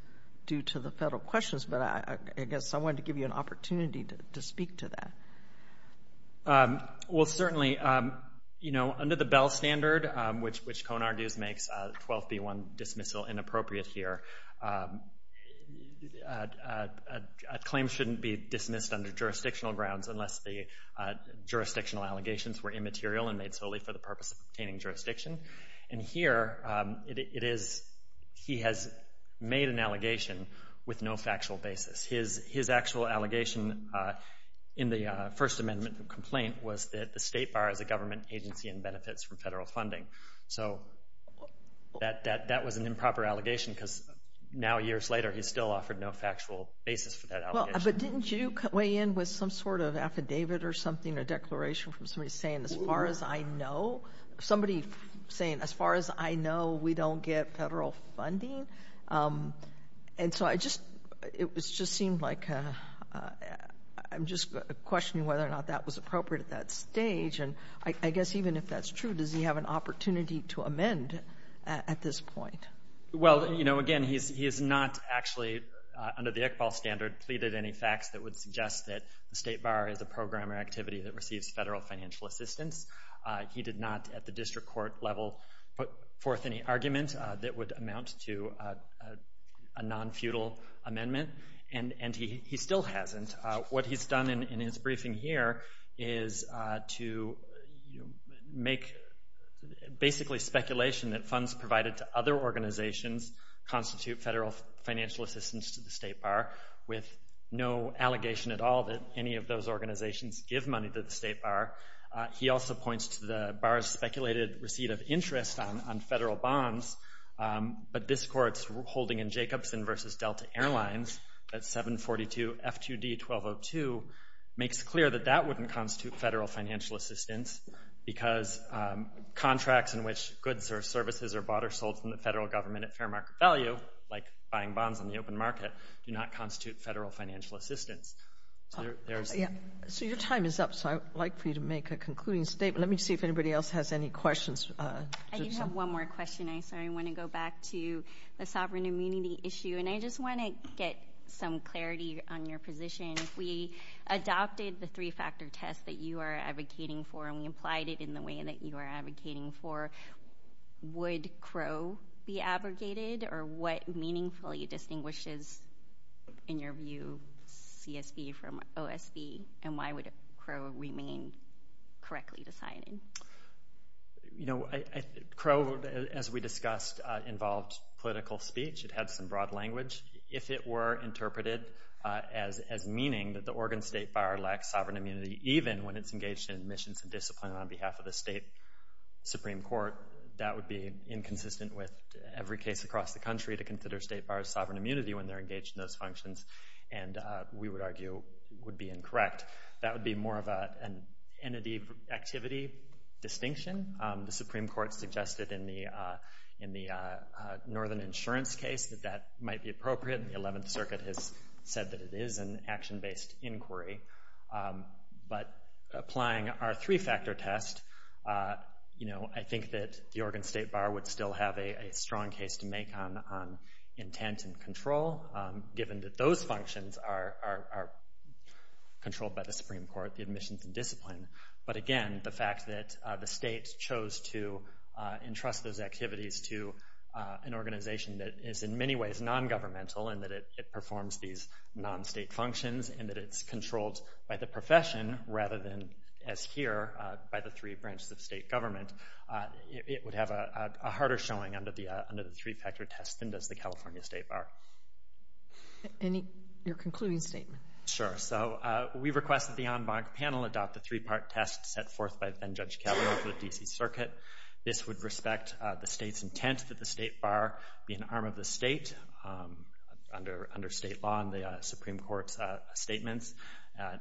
due to the federal questions. But I guess I wanted to give you an opportunity to speak to that. Well, certainly, you know, under the Bell Standard, which Cohen argues makes 12b-1 dismissal inappropriate here, a claim shouldn't be dismissed under jurisdictional grounds unless the jurisdictional allegations were immaterial and made solely for the purpose of obtaining jurisdiction. And here it is he has made an allegation with no factual basis. His actual allegation in the First Amendment complaint was that the state bar as a government agency in benefits from federal funding. So that was an improper allegation because now, years later, he's still offered no factual basis for that allegation. But didn't you weigh in with some sort of affidavit or something, a declaration from somebody saying, as far as I know, we don't get federal funding? And so it just seemed like I'm just questioning whether or not that was appropriate at that stage. And I guess even if that's true, does he have an opportunity to amend at this point? Well, you know, again, he has not actually, under the Iqbal Standard, pleaded any facts that would suggest that the state bar is a program or activity that receives federal financial assistance. He did not, at the district court level, put forth any argument that would amount to a non-feudal amendment. And he still hasn't. What he's done in his briefing here is to make basically speculation that funds provided to other organizations constitute federal financial assistance to the state bar with no allegation at all that any of those organizations give money to the state bar. He also points to the bar's speculated receipt of interest on federal bonds, but this court's holding in Jacobson v. Delta Airlines at 742 F2D 1202 makes clear that that wouldn't constitute federal financial assistance because contracts in which goods or services are bought or sold from the federal government at fair market value, like buying bonds on the open market, do not constitute federal financial assistance. So your time is up, so I would like for you to make a concluding statement. Let me see if anybody else has any questions. I do have one more question. I want to go back to the sovereign immunity issue, and I just want to get some clarity on your position. If we adopted the three-factor test that you are advocating for and we applied it in the way that you are advocating for, would Crow be abrogated, or what meaningfully distinguishes, in your view, CSB from OSB, and why would Crow remain correctly decided? Crow, as we discussed, involved political speech. It had some broad language. If it were interpreted as meaning that the Oregon State Bar lacks sovereign immunity, even when it's engaged in missions and discipline on behalf of the state Supreme Court, that would be inconsistent with every case across the country to consider state bars sovereign immunity when they're engaged in those functions, and we would argue would be incorrect. That would be more of an entity-activity distinction. The Supreme Court suggested in the Northern Insurance case that that might be appropriate, and the Eleventh Circuit has said that it is an action-based inquiry. But applying our three-factor test, I think that the Oregon State Bar would still have a strong case to make on intent and control, given that those functions are controlled by the Supreme Court, the admissions and discipline. But again, the fact that the state chose to entrust those activities to an organization that is in many ways non-governmental and that it performs these non-state functions and that it's controlled by the profession rather than, as here, by the three branches of state government, it would have a harder showing under the three-factor test than does the California State Bar. Your concluding statement. Sure. We request that the en banc panel adopt the three-part test set forth by then-Judge Kavanaugh for the D.C. Circuit. This would respect the state's intent that the state bar be an arm of the state. Under state law and the Supreme Court's statements,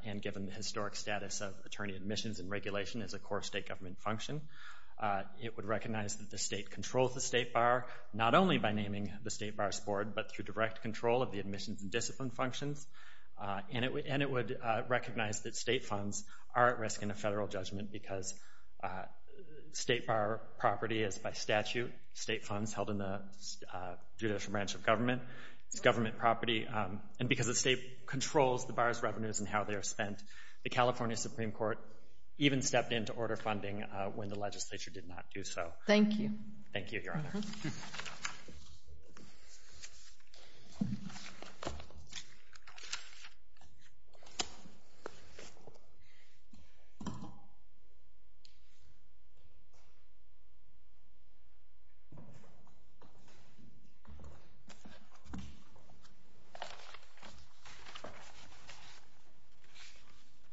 and given the historic status of attorney admissions and regulation as a core state government function, it would recognize that the state controls the state bar not only by naming the state bar's board but through direct control of the admissions and discipline functions. And it would recognize that state funds are at risk in a federal judgment because state bar property is, by statute, state funds held in the judicial branch of government. It's government property. And because the state controls the bar's revenues and how they are spent, the California Supreme Court even stepped in to order funding when the legislature did not do so. Thank you. Thank you, Your Honor. Thank you.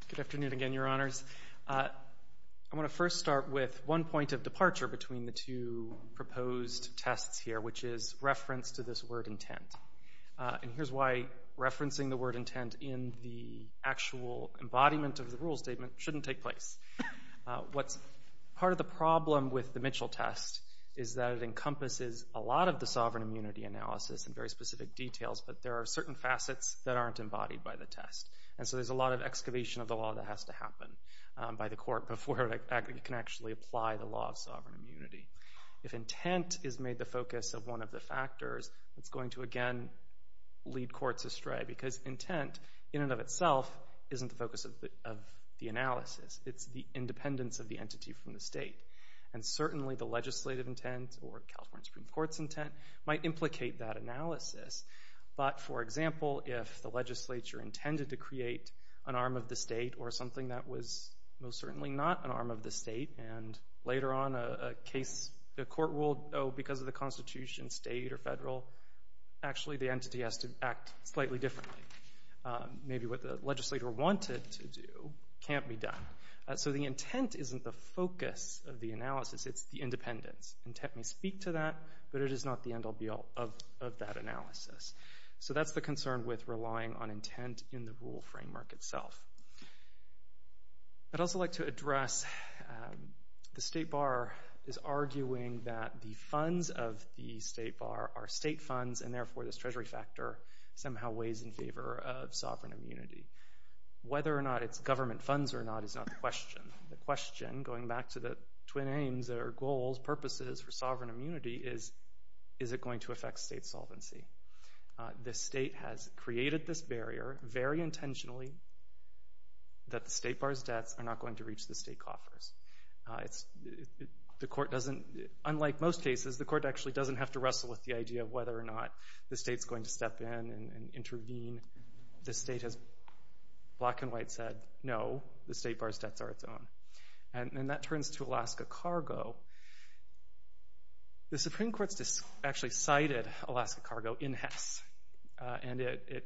Good afternoon again, Your Honors. I want to first start with one point of departure between the two proposed tests here, which is reference to this word intent. And here's why referencing the word intent in the actual embodiment of the rule statement shouldn't take place. Part of the problem with the Mitchell test is that it encompasses a lot of the sovereign immunity analysis and very specific details, but there are certain facets that aren't embodied by the test. And so there's a lot of excavation of the law that has to happen by the court before it can actually apply the law of sovereign immunity. If intent is made the focus of one of the factors, it's going to, again, lead courts astray because intent, in and of itself, isn't the focus of the analysis. It's the independence of the entity from the state. And certainly the legislative intent or California Supreme Court's intent might implicate that analysis. But, for example, if the legislature intended to create an arm of the state or something that was most certainly not an arm of the state and later on a court ruled, oh, because of the Constitution, state or federal, actually the entity has to act slightly differently. Maybe what the legislator wanted to do can't be done. So the intent isn't the focus of the analysis. It's the independence. Intent may speak to that, but it is not the end all, be all of that analysis. So that's the concern with relying on intent in the rule framework itself. I'd also like to address the State Bar is arguing that the funds of the State Bar are state funds and, therefore, this treasury factor somehow weighs in favor of sovereign immunity. Whether or not it's government funds or not is not the question. The question, going back to the twin aims or goals, purposes for sovereign immunity, is is it going to affect state solvency? The state has created this barrier very intentionally that the State Bar's debts are not going to reach the state coffers. Unlike most cases, the court actually doesn't have to wrestle with the idea of whether or not the state's going to step in and intervene. The state has black and white said, no, the State Bar's debts are its own. And that turns to Alaska Cargo. The Supreme Court actually cited Alaska Cargo in Hess, and it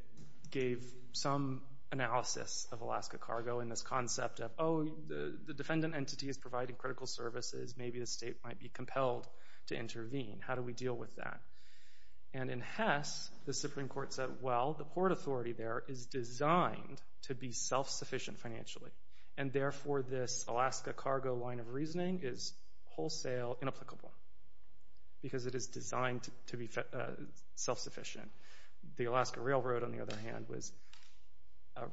gave some analysis of Alaska Cargo in this concept of, oh, the defendant entity is providing critical services. Maybe the state might be compelled to intervene. How do we deal with that? And in Hess, the Supreme Court said, well, the port authority there is designed to be self-sufficient financially, and therefore this Alaska Cargo line of reasoning is wholesale inapplicable because it is designed to be self-sufficient. The Alaska Railroad, on the other hand, was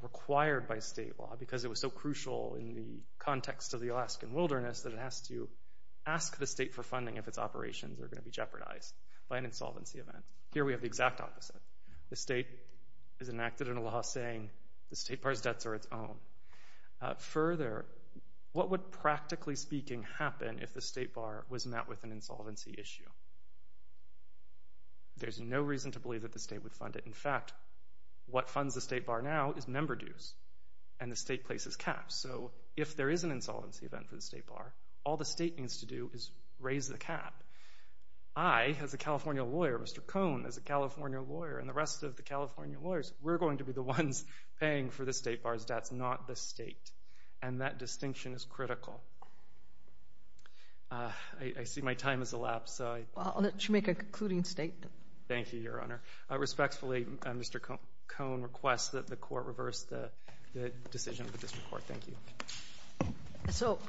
required by state law because it was so crucial in the context of the Alaskan wilderness that it has to ask the state for funding if its operations are going to be jeopardized by an insolvency event. Here we have the exact opposite. The state has enacted a law saying the State Bar's debts are its own. Further, what would practically speaking happen if the State Bar was met with an insolvency issue? There's no reason to believe that the state would fund it. In fact, what funds the State Bar now is member dues, and the state places caps. So if there is an insolvency event for the State Bar, all the state needs to do is raise the cap. I, as a California lawyer, Mr. Cohn, as a California lawyer, and the rest of the California lawyers, we're going to be the ones paying for the State Bar's debts, not the state. And that distinction is critical. I see my time has elapsed. I'll let you make a concluding statement. Thank you, Your Honor. Respectfully, Mr. Cohn requests that the Court reverse the decision of the District Court. Thank you. So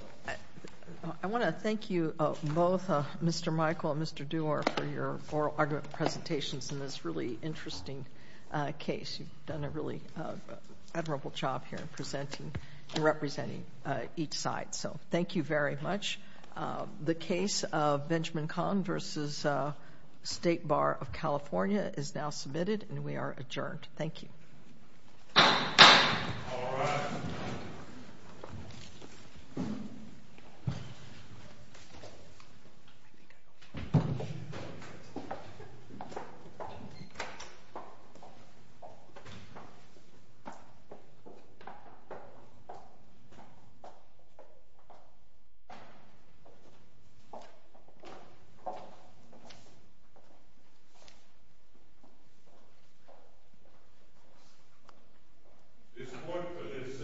I want to thank you both, Mr. Michael and Mr. Dewar, for your oral argument presentations in this really interesting case. You've done a really admirable job here in presenting and representing each side. So thank you very much. The case of Benjamin Cohn v. State Bar of California is now submitted, and we are adjourned. Thank you. All rise. This Court, for this session, stands adjourned.